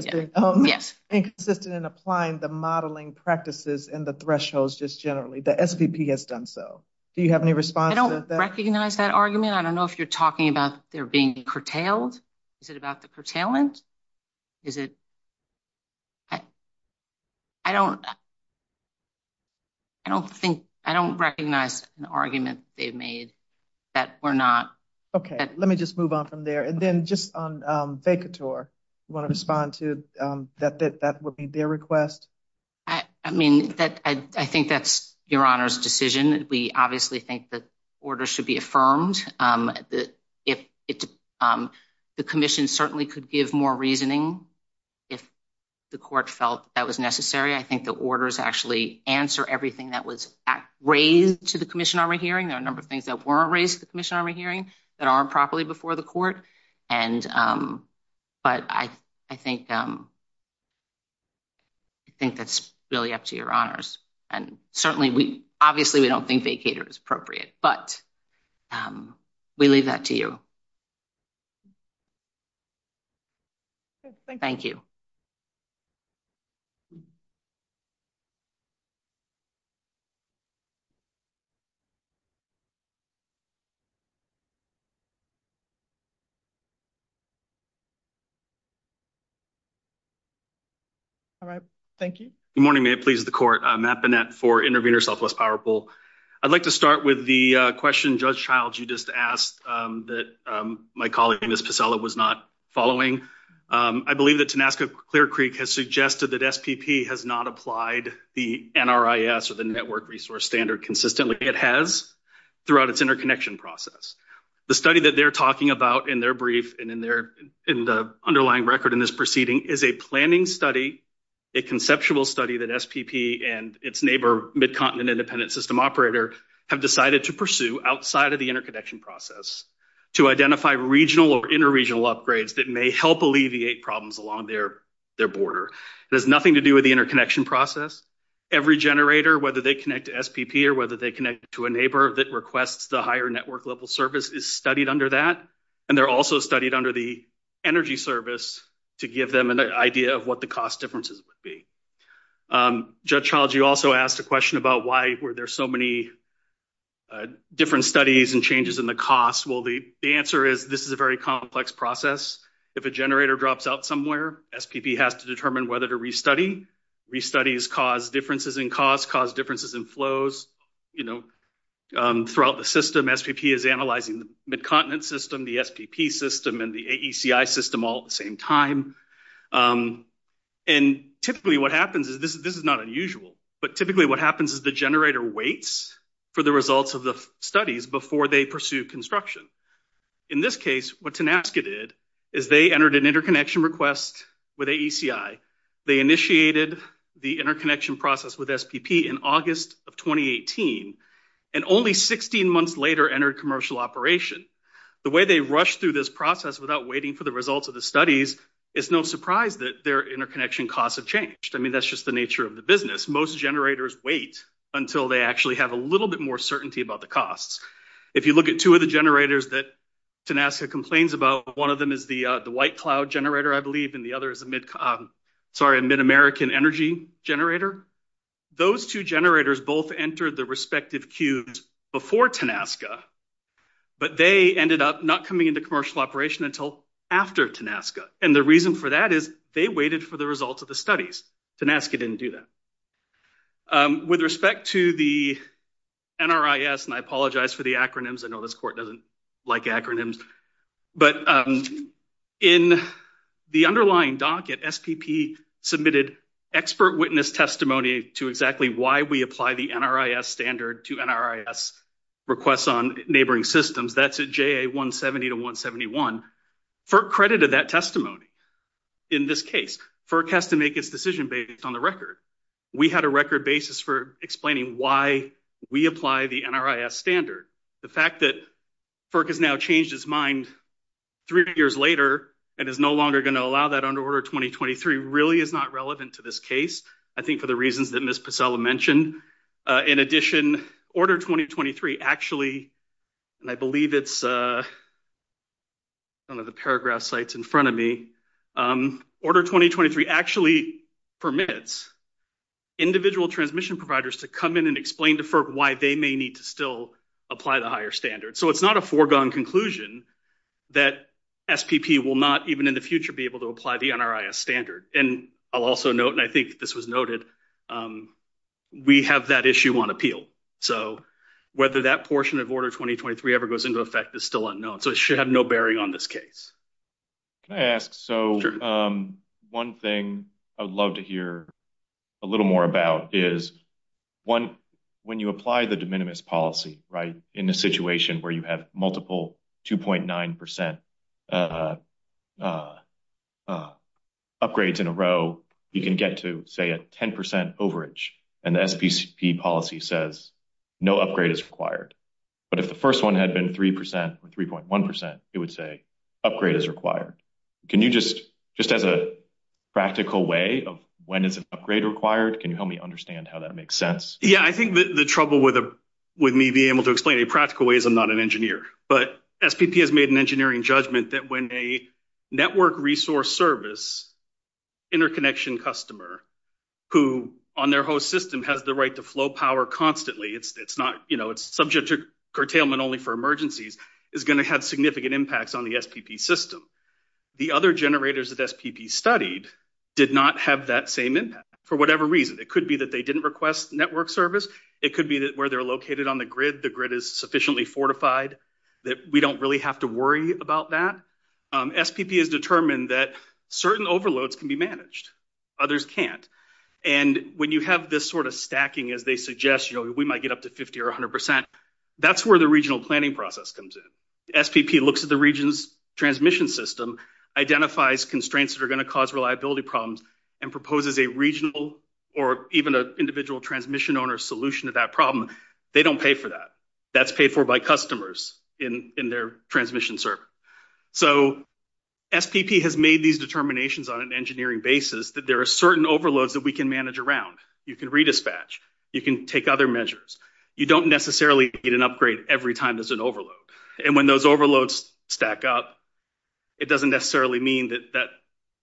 Yes. Inconsistent in applying the modeling practices and the thresholds just generally. The SVP has done so. Do you have any response to that? I don't recognize that argument. I don't know if you're talking about they're being curtailed. Is it about the curtailment? Is it about – I don't think – I don't recognize an argument they've made that we're not – Okay. Let me just move on from there. And then just on Vacator, you want to respond to that would be their request? I mean, I think that's Your Honor's decision. We obviously think the order should be affirmed. The commission certainly could give more reasoning if the court felt that was necessary. I think the orders actually answer everything that was raised to the commission on re-hearing. There are a number of things that weren't raised to the commission on re-hearing that aren't properly before the court. But I think that's really up to Your Honors. And certainly, we – obviously, we don't think Vacator is appropriate. But we leave that to you. Thank you. All right. Thank you. Good morning. May it please the court. Matt Bennett for Judge Childs. You just asked that my colleague, Ms. Pacella, was not following. I believe that Tenasca Clear Creek has suggested that SPP has not applied the NRIS or the network resource standard consistently. It has throughout its interconnection process. The study that they're talking about in their brief and in the underlying record in this proceeding is a planning study, a conceptual study that SPP and its neighbor, Mid-Continent Independent System operator, have decided to pursue outside of the interconnection process to identify regional or inter-regional upgrades that may help alleviate problems along their border. It has nothing to do with the interconnection process. Every generator, whether they connect to SPP or whether they connect to a neighbor that requests the higher network level service, is studied under that. And they're also studied under the energy service to give them an idea of what the cost differences would be. Judge Childs, you also asked a question about why were there so many different studies and changes in the cost. Well, the answer is this is a very complex process. If a generator drops out somewhere, SPP has to determine whether to restudy. Restudies cause differences in cost, cause differences in flows. You know, throughout the system, SPP is analyzing the Mid-Continent system, the SPP system, and the AECI system all the same time. And typically what happens is, this is not unusual, but typically what happens is the generator waits for the results of the studies before they pursue construction. In this case, what Tenasca did is they entered an interconnection request with AECI. They initiated the interconnection process with SPP in August of 2018, and only 16 months later entered commercial operation. The way they rushed through this process without waiting for the results of the studies, it's no surprise that their interconnection costs have changed. I mean, that's just the nature of the business. Most generators wait until they actually have a little bit more certainty about the costs. If you look at two of the generators that Tenasca complains about, one of them is the white cloud generator, I believe, and the other is a mid-American energy generator. Those two but they ended up not coming into commercial operation until after Tenasca, and the reason for that is they waited for the results of the studies. Tenasca didn't do that. With respect to the NRIS, and I apologize for the acronyms, I know this court doesn't like acronyms, but in the underlying docket, SPP submitted expert witness testimony to exactly why we apply the NRIS standard to NRIS requests on neighboring systems. That's at JA 170 to 171. FERC credited that testimony in this case. FERC has to make its decision based on the record. We had a record basis for explaining why we apply the NRIS standard. The fact that FERC has now changed its mind three years later and is no longer going to allow that under Order 2023 really is not relevant to this case, I think, for the reasons that Ms. Pasella mentioned. In addition, Order 2023 actually, and I believe it's one of the paragraph sites in front of me, Order 2023 actually permits individual transmission providers to come in and explain to FERC why they may need to still apply the higher standard. So it's not a foregone conclusion that SPP will not even in the future be able to apply the NRIS standard. And I'll also note, and I think this was noted, we have that issue on appeal. So whether that portion of Order 2023 ever goes into effect is still unknown. So it should have no bearing on this case. Can I ask, so one thing I would love to hear a little more about is, one, when you apply the de minimis policy, right, in a situation where you have multiple 2.9 percent upgrades in a row, you can get to, say, a 10 percent overage, and the SPP policy says no upgrade is required. But if the first one had been 3 percent or 3.1 percent, it would say upgrade is required. Can you just, just as a practical way of when is an upgrade required, can you help me understand how that makes sense? Yeah, I think the trouble with me being able to explain a practical way is I'm not an engineer. But SPP has made an engineering judgment that when a network resource service interconnection customer, who on their host system has the right to flow power constantly, it's not, you know, it's subject to curtailment only for emergencies, is going to have significant impacts on the SPP system. The other generators that SPP studied did not have that same impact, for whatever reason. It could be that they didn't request network service. It could be that where they're located on the grid, the grid is sufficiently fortified that we don't really have to worry about that. SPP has determined that certain overloads can be managed. Others can't. And when you have this sort of stacking, as they suggest, you know, we might get up to 50 or 100 percent, that's where the regional planning process comes in. SPP looks at the region's transmission system, identifies constraints that are going to cause reliability problems, and proposes a regional or even an individual transmission owner solution to that problem. They don't pay for that. That's paid for by customers in their transmission server. So SPP has made these determinations on an engineering basis that there are certain overloads that we can manage around. You can redispatch. You can take other measures. You don't necessarily get an upgrade every time there's an overload. And when those overloads stack up, it doesn't necessarily mean that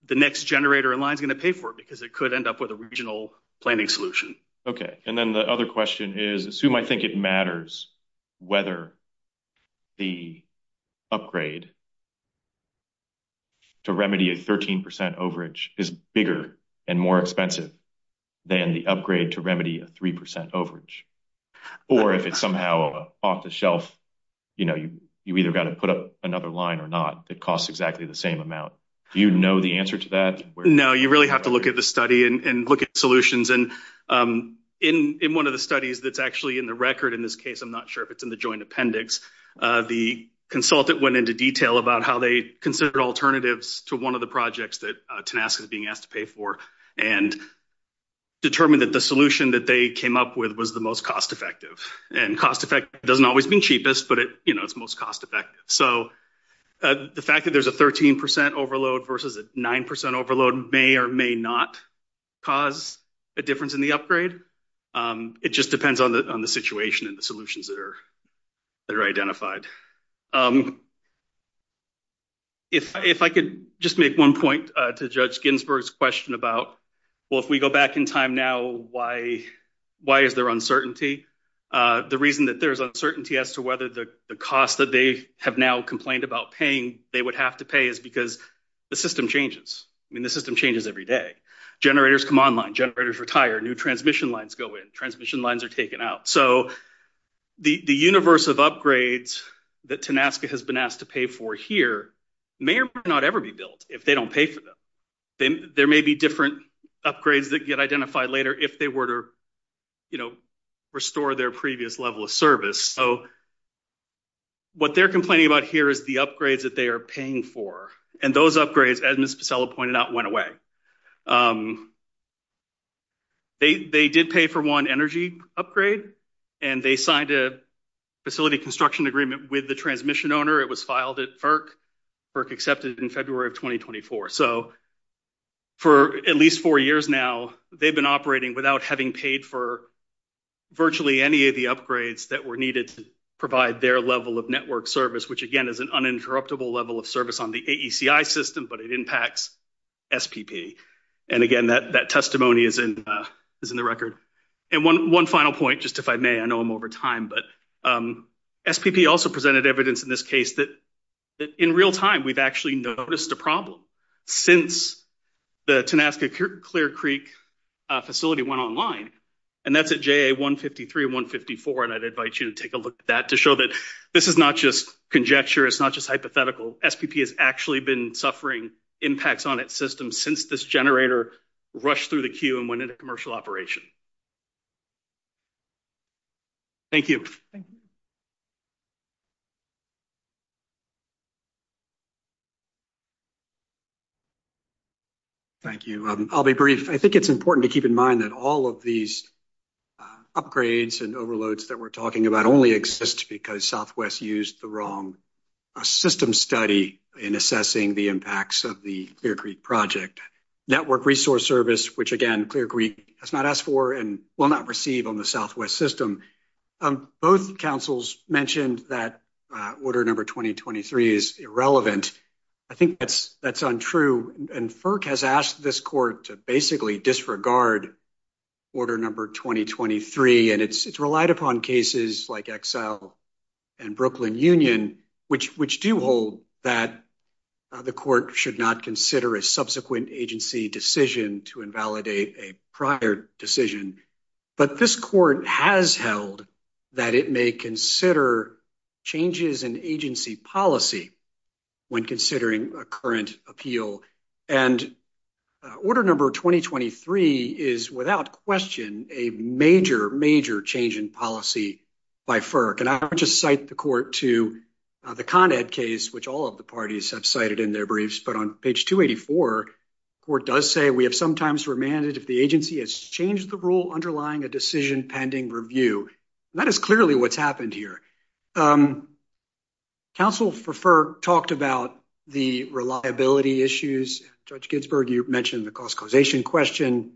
the next generator in line is going to pay for it, because it could end up with a regional planning solution. Okay. And then the other question is, assume I think it matters whether the upgrade to remedy a 13 percent overage is bigger and more expensive than the upgrade to remedy a 3 percent overage. Or if it's somehow off the shelf, you know, you either got to put up another line or not that costs exactly the same amount. Do you know the answer to that? No. You really have to look at the study and look at solutions. And in one of the studies that's actually in the record in this case, I'm not sure if it's in the joint appendix, the consultant went into detail about how they considered alternatives to one of the projects that Tenasca is being asked to pay for and determined that the solution that they came up with was the most cost effective. And cost effective doesn't always mean cheapest, but it's most cost effective. So the fact that there's a 13 percent overload versus a 9 percent overload may or may not cause a difference in the upgrade. It just depends on the situation and the solutions that are identified. If I could just make one point to Judge Ginsburg's question about, well, if we go back in time now, why is there uncertainty? The reason that there's uncertainty as to whether the cost that they have now complained about paying they would have to pay is because the system changes. I mean, the system changes every day. Generators come online. Generators retire. New transmission lines go in. Transmission lines are taken out. So the universe of upgrades that Tenasca has been asked to pay for here may or may not ever be built if they don't pay for them. There may be different upgrades that get identified later if they were to, you know, restore their previous level of service. So what they're complaining about here is the upgrades that they are paying for. And those upgrades, as Ms. Pacella pointed out, went away. They did pay for one energy upgrade, and they signed a facility construction agreement with the transmission owner. It was filed at FERC. FERC accepted in February of 2024. So for at least four years now, they've been operating without having paid for virtually any of the upgrades that were needed to provide their level of network service, which, again, is an uninterruptible level of service on the AECI system, but it impacts SPP. And, again, that testimony is in the record. And one final point, just if I may, I know I'm over time, but SPP also presented evidence in this case that in real time we've noticed a problem since the Tanaska Clear Creek facility went online. And that's at JA-153 and 154. And I'd invite you to take a look at that to show that this is not just conjecture. It's not just hypothetical. SPP has actually been suffering impacts on its system since this generator rushed through the queue and went into commercial operation. Thank you. Thank you. I'll be brief. I think it's important to keep in mind that all of these upgrades and overloads that we're talking about only exist because Southwest used the wrong system study in assessing the impacts of the Clear Creek project. Network resource service, which, again, Clear Creek has not asked for and will not receive on the Southwest system. Both councils mentioned that order number 2023 is irrelevant. I think that's untrue. And FERC has asked this court to basically disregard order number 2023. And it's relied upon cases like Exile and Brooklyn Union, which do hold that the court should not consider a subsequent agency decision to invalidate a prior decision. But this court has held that it may consider changes in agency policy when considering a current appeal. And order number 2023 is, without question, a major, major change in policy by FERC. And I would just cite the court to the Con Ed case, which all of the parties have cited in their briefs. But on page 284, the court does say, we have sometimes remanded if the agency has changed the rule underlying a decision pending review. That is clearly what's happened here. Council for FERC talked about the reliability issues. Judge Ginsburg, you mentioned the cost causation question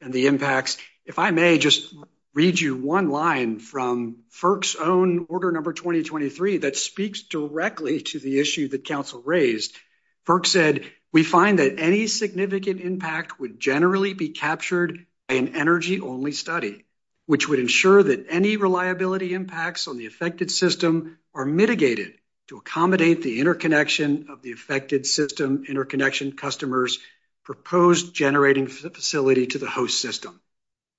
and the impacts. If I may, just read you one line from FERC's own order number 2023 that speaks directly to the issue that council raised. FERC said, we find that any significant impact would generally be captured by an energy-only study, which would ensure that any reliability impacts on the affected system are mitigated to accommodate the interconnection of the affected system interconnection customers proposed generating facility to the host system.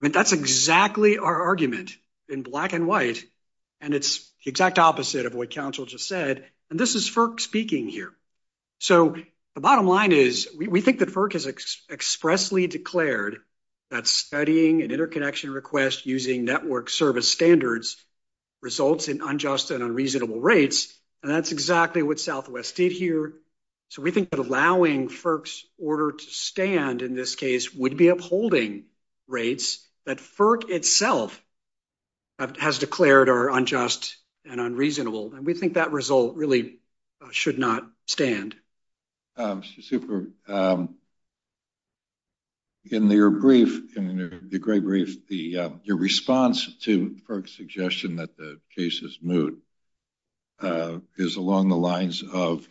I mean, that's exactly our argument in black and white. And it's the exact opposite of what council just said. And this is FERC speaking here. So the bottom line is, we think that FERC has expressly declared that studying an interconnection request using network service standards results in unjust and unreasonable rates. And that's in this case, would be upholding rates that FERC itself has declared are unjust and unreasonable. And we think that result really should not stand. Super. In your brief, in the gray brief, your response to FERC's suggestion that the case is moot is along the lines of,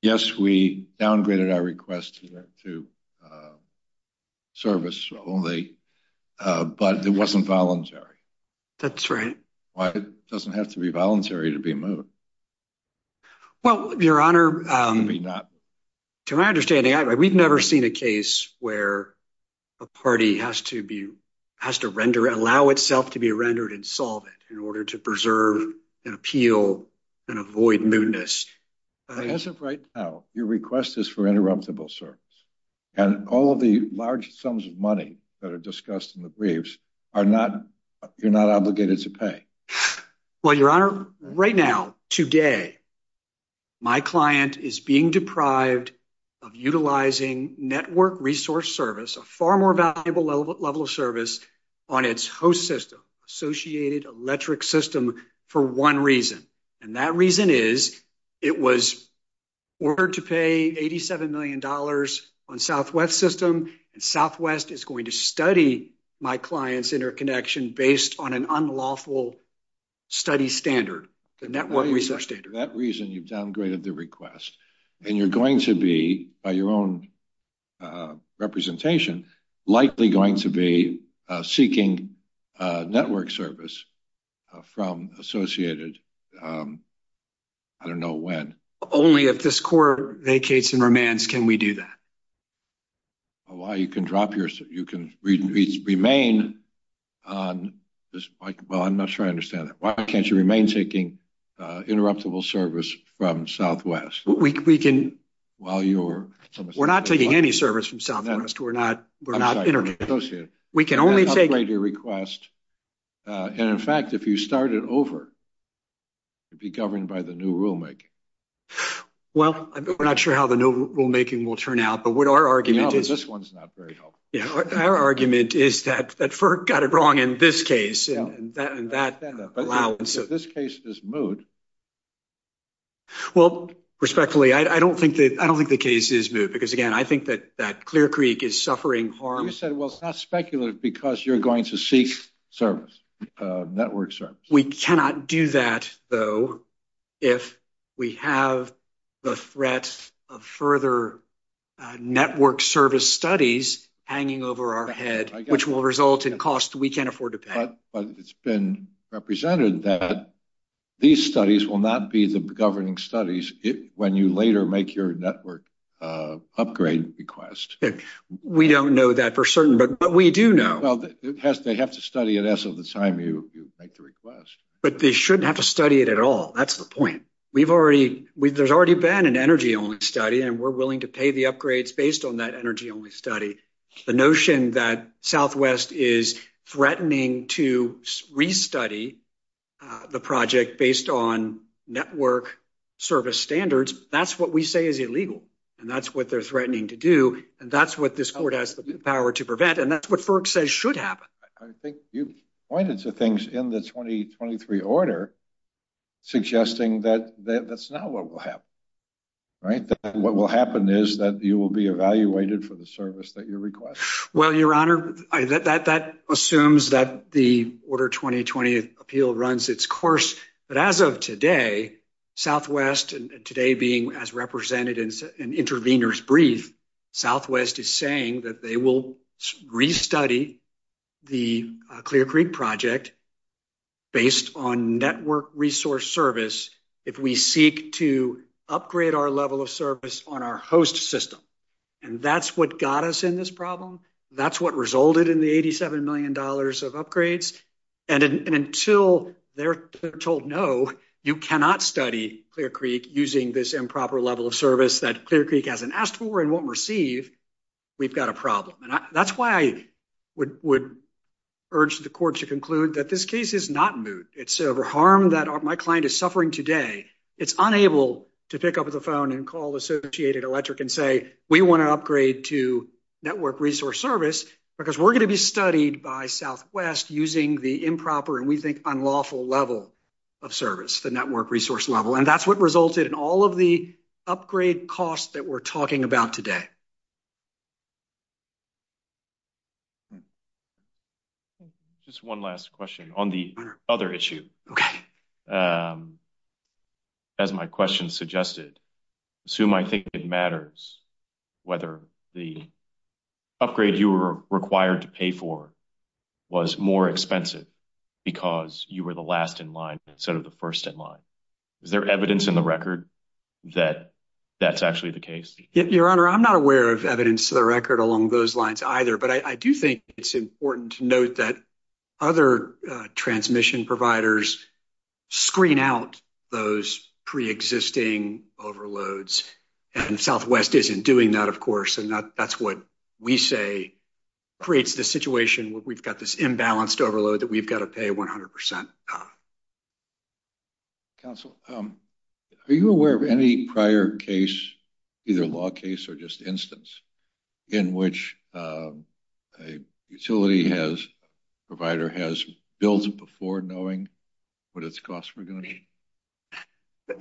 yes, we downgraded our request to service only, but it wasn't voluntary. That's right. Why? It doesn't have to be voluntary to be moot. Well, your honor, to my understanding, we've never seen a case where a party has to be, has to render, allow itself to be rendered and as of right now, your request is for interruptible service and all of the large sums of money that are discussed in the briefs are not, you're not obligated to pay. Well, your honor, right now, today, my client is being deprived of utilizing network resource service, a far more valuable level of service on its host system, associated electric system for one reason. And that reason is it was ordered to pay $87 million on Southwest system. And Southwest is going to study my client's interconnection based on an unlawful study standard, the network resource standard. That reason you've downgraded the request and you're going to be, by your own representation, likely going to be seeking network service from associated, I don't know when. Only if this court vacates and remands, can we do that? Why you can drop your, you can remain on, well, I'm not sure I understand that. Why can't you remain taking interruptible service from Southwest? We can, we're not taking any service from Southwest. We're not, we're not interconnected. We can only take- Upgrade your request. And in fact, if you start it over, it'd be governed by the new rulemaking. Well, we're not sure how the new rulemaking will turn out, but what our argument is- This one's not very helpful. Yeah. Our argument is that FERC got it wrong in this case and that allowance- If this case is moot. Well, respectfully, I don't think that, I don't think the case is moot because again, I think that that Clear Creek is suffering harm. You said, well, it's not speculative because you're going to seek service, network service. We cannot do that though, if we have the threat of further network service studies hanging over our head, which will result in costs we can't afford to pay. But it's been represented that these studies will not be the governing studies when you later make your network upgrade request. We don't know that for certain, but we do know- Well, they have to study it as of the time you make the request. But they shouldn't have to study it at all. That's the point. We've already, there's already been an energy only study and we're willing to pay the upgrades based on that energy only study. The notion that Southwest is threatening to restudy the project based on network service standards, that's what we say is illegal. And that's what they're threatening to do. And that's what this court has the power to prevent. And that's what FERC says should happen. I think you've pointed to things in the 2023 order suggesting that that's not what will happen. Right. What will happen is that you will be evaluated for the service that you request. Well, your honor, that assumes that the order 2020 appeal runs its course. But as of today, Southwest and today being as represented in an intervener's brief, Southwest is saying that they will restudy the Clear Creek project based on network resource service if we seek to upgrade our level of service on our host system. And that's what got us in this problem. That's what resulted in the $87 million of upgrades. And until they're told, no, you cannot study Clear Creek using this improper level of service that Clear Creek hasn't asked for and won't receive, we've got a problem. And that's why I would urge the court to conclude that this case is not moot. It's over harm that my client is suffering today. It's unable to pick up the phone and call Associated Electric and say, we want to upgrade to network resource service because we're going to be studied by Southwest using the improper and we think unlawful level of service, the network resource level. And that's what resulted in all of the upgrade costs that we're talking about today. Just one last question on the other issue. Okay. As my question suggested, assume I think it matters whether the upgrade you were required to pay for was more expensive because you were the last in line instead of the first in line. Is there evidence in the record that that's actually the case? Your Honor, I'm not aware of evidence to the record along those lines either, but I do think it's important to note that other transmission providers screen out those pre-existing overloads and Southwest isn't doing that, of course. And that's what we say creates the situation where we've got this imbalanced overload that we've got to pay 100%. Counsel, are you aware of any prior case, either law case or just instance in which a utility has, provider has built it before knowing what its costs were going to be?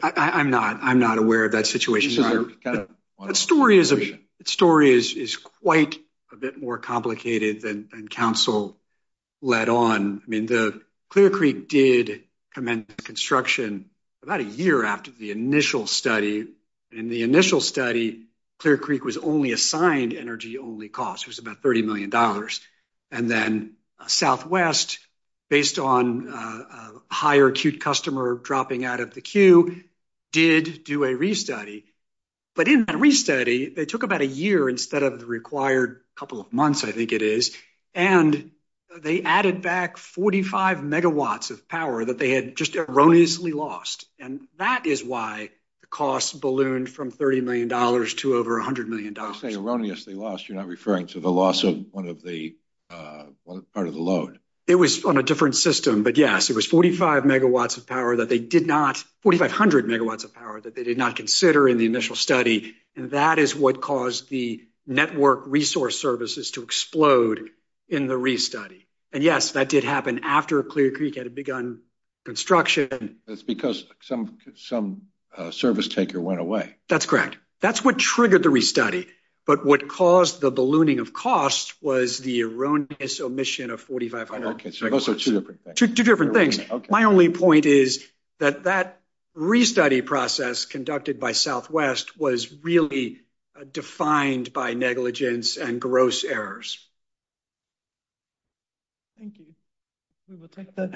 I'm not. I'm not aware of that situation. The story is quite a bit more complicated than counsel led on. I mean, the Clear Creek did commence construction about a year after the initial study. In the initial study, Clear Creek was only assigned energy only costs. It was about $30 million. And then Southwest, based on a higher acute customer dropping out of the queue, did do a restudy. But in that restudy, they took about a year instead of the required couple of months, I think it is. And they added back 45 megawatts of power that they had just erroneously lost. And that is why the costs ballooned from $30 million to over $100 million. When you say erroneously lost, you're not referring to the loss of one of the part of the load. It was on a different system. But yes, it was 45 megawatts of power that they did not, 4,500 megawatts of power that they did not consider in the initial study. And that is what caused the network resource services to explode in the restudy. And yes, that did happen after Clear Creek had begun construction. That's because some service taker went away. That's correct. That's what triggered the restudy. But what caused the ballooning of costs was the erroneous omission of 4,500 megawatts. Okay, so those are two different things. Two different things. My only point is that that restudy process conducted by Southwest was really defined by negligence and gross errors. Thank you. We will take the next question.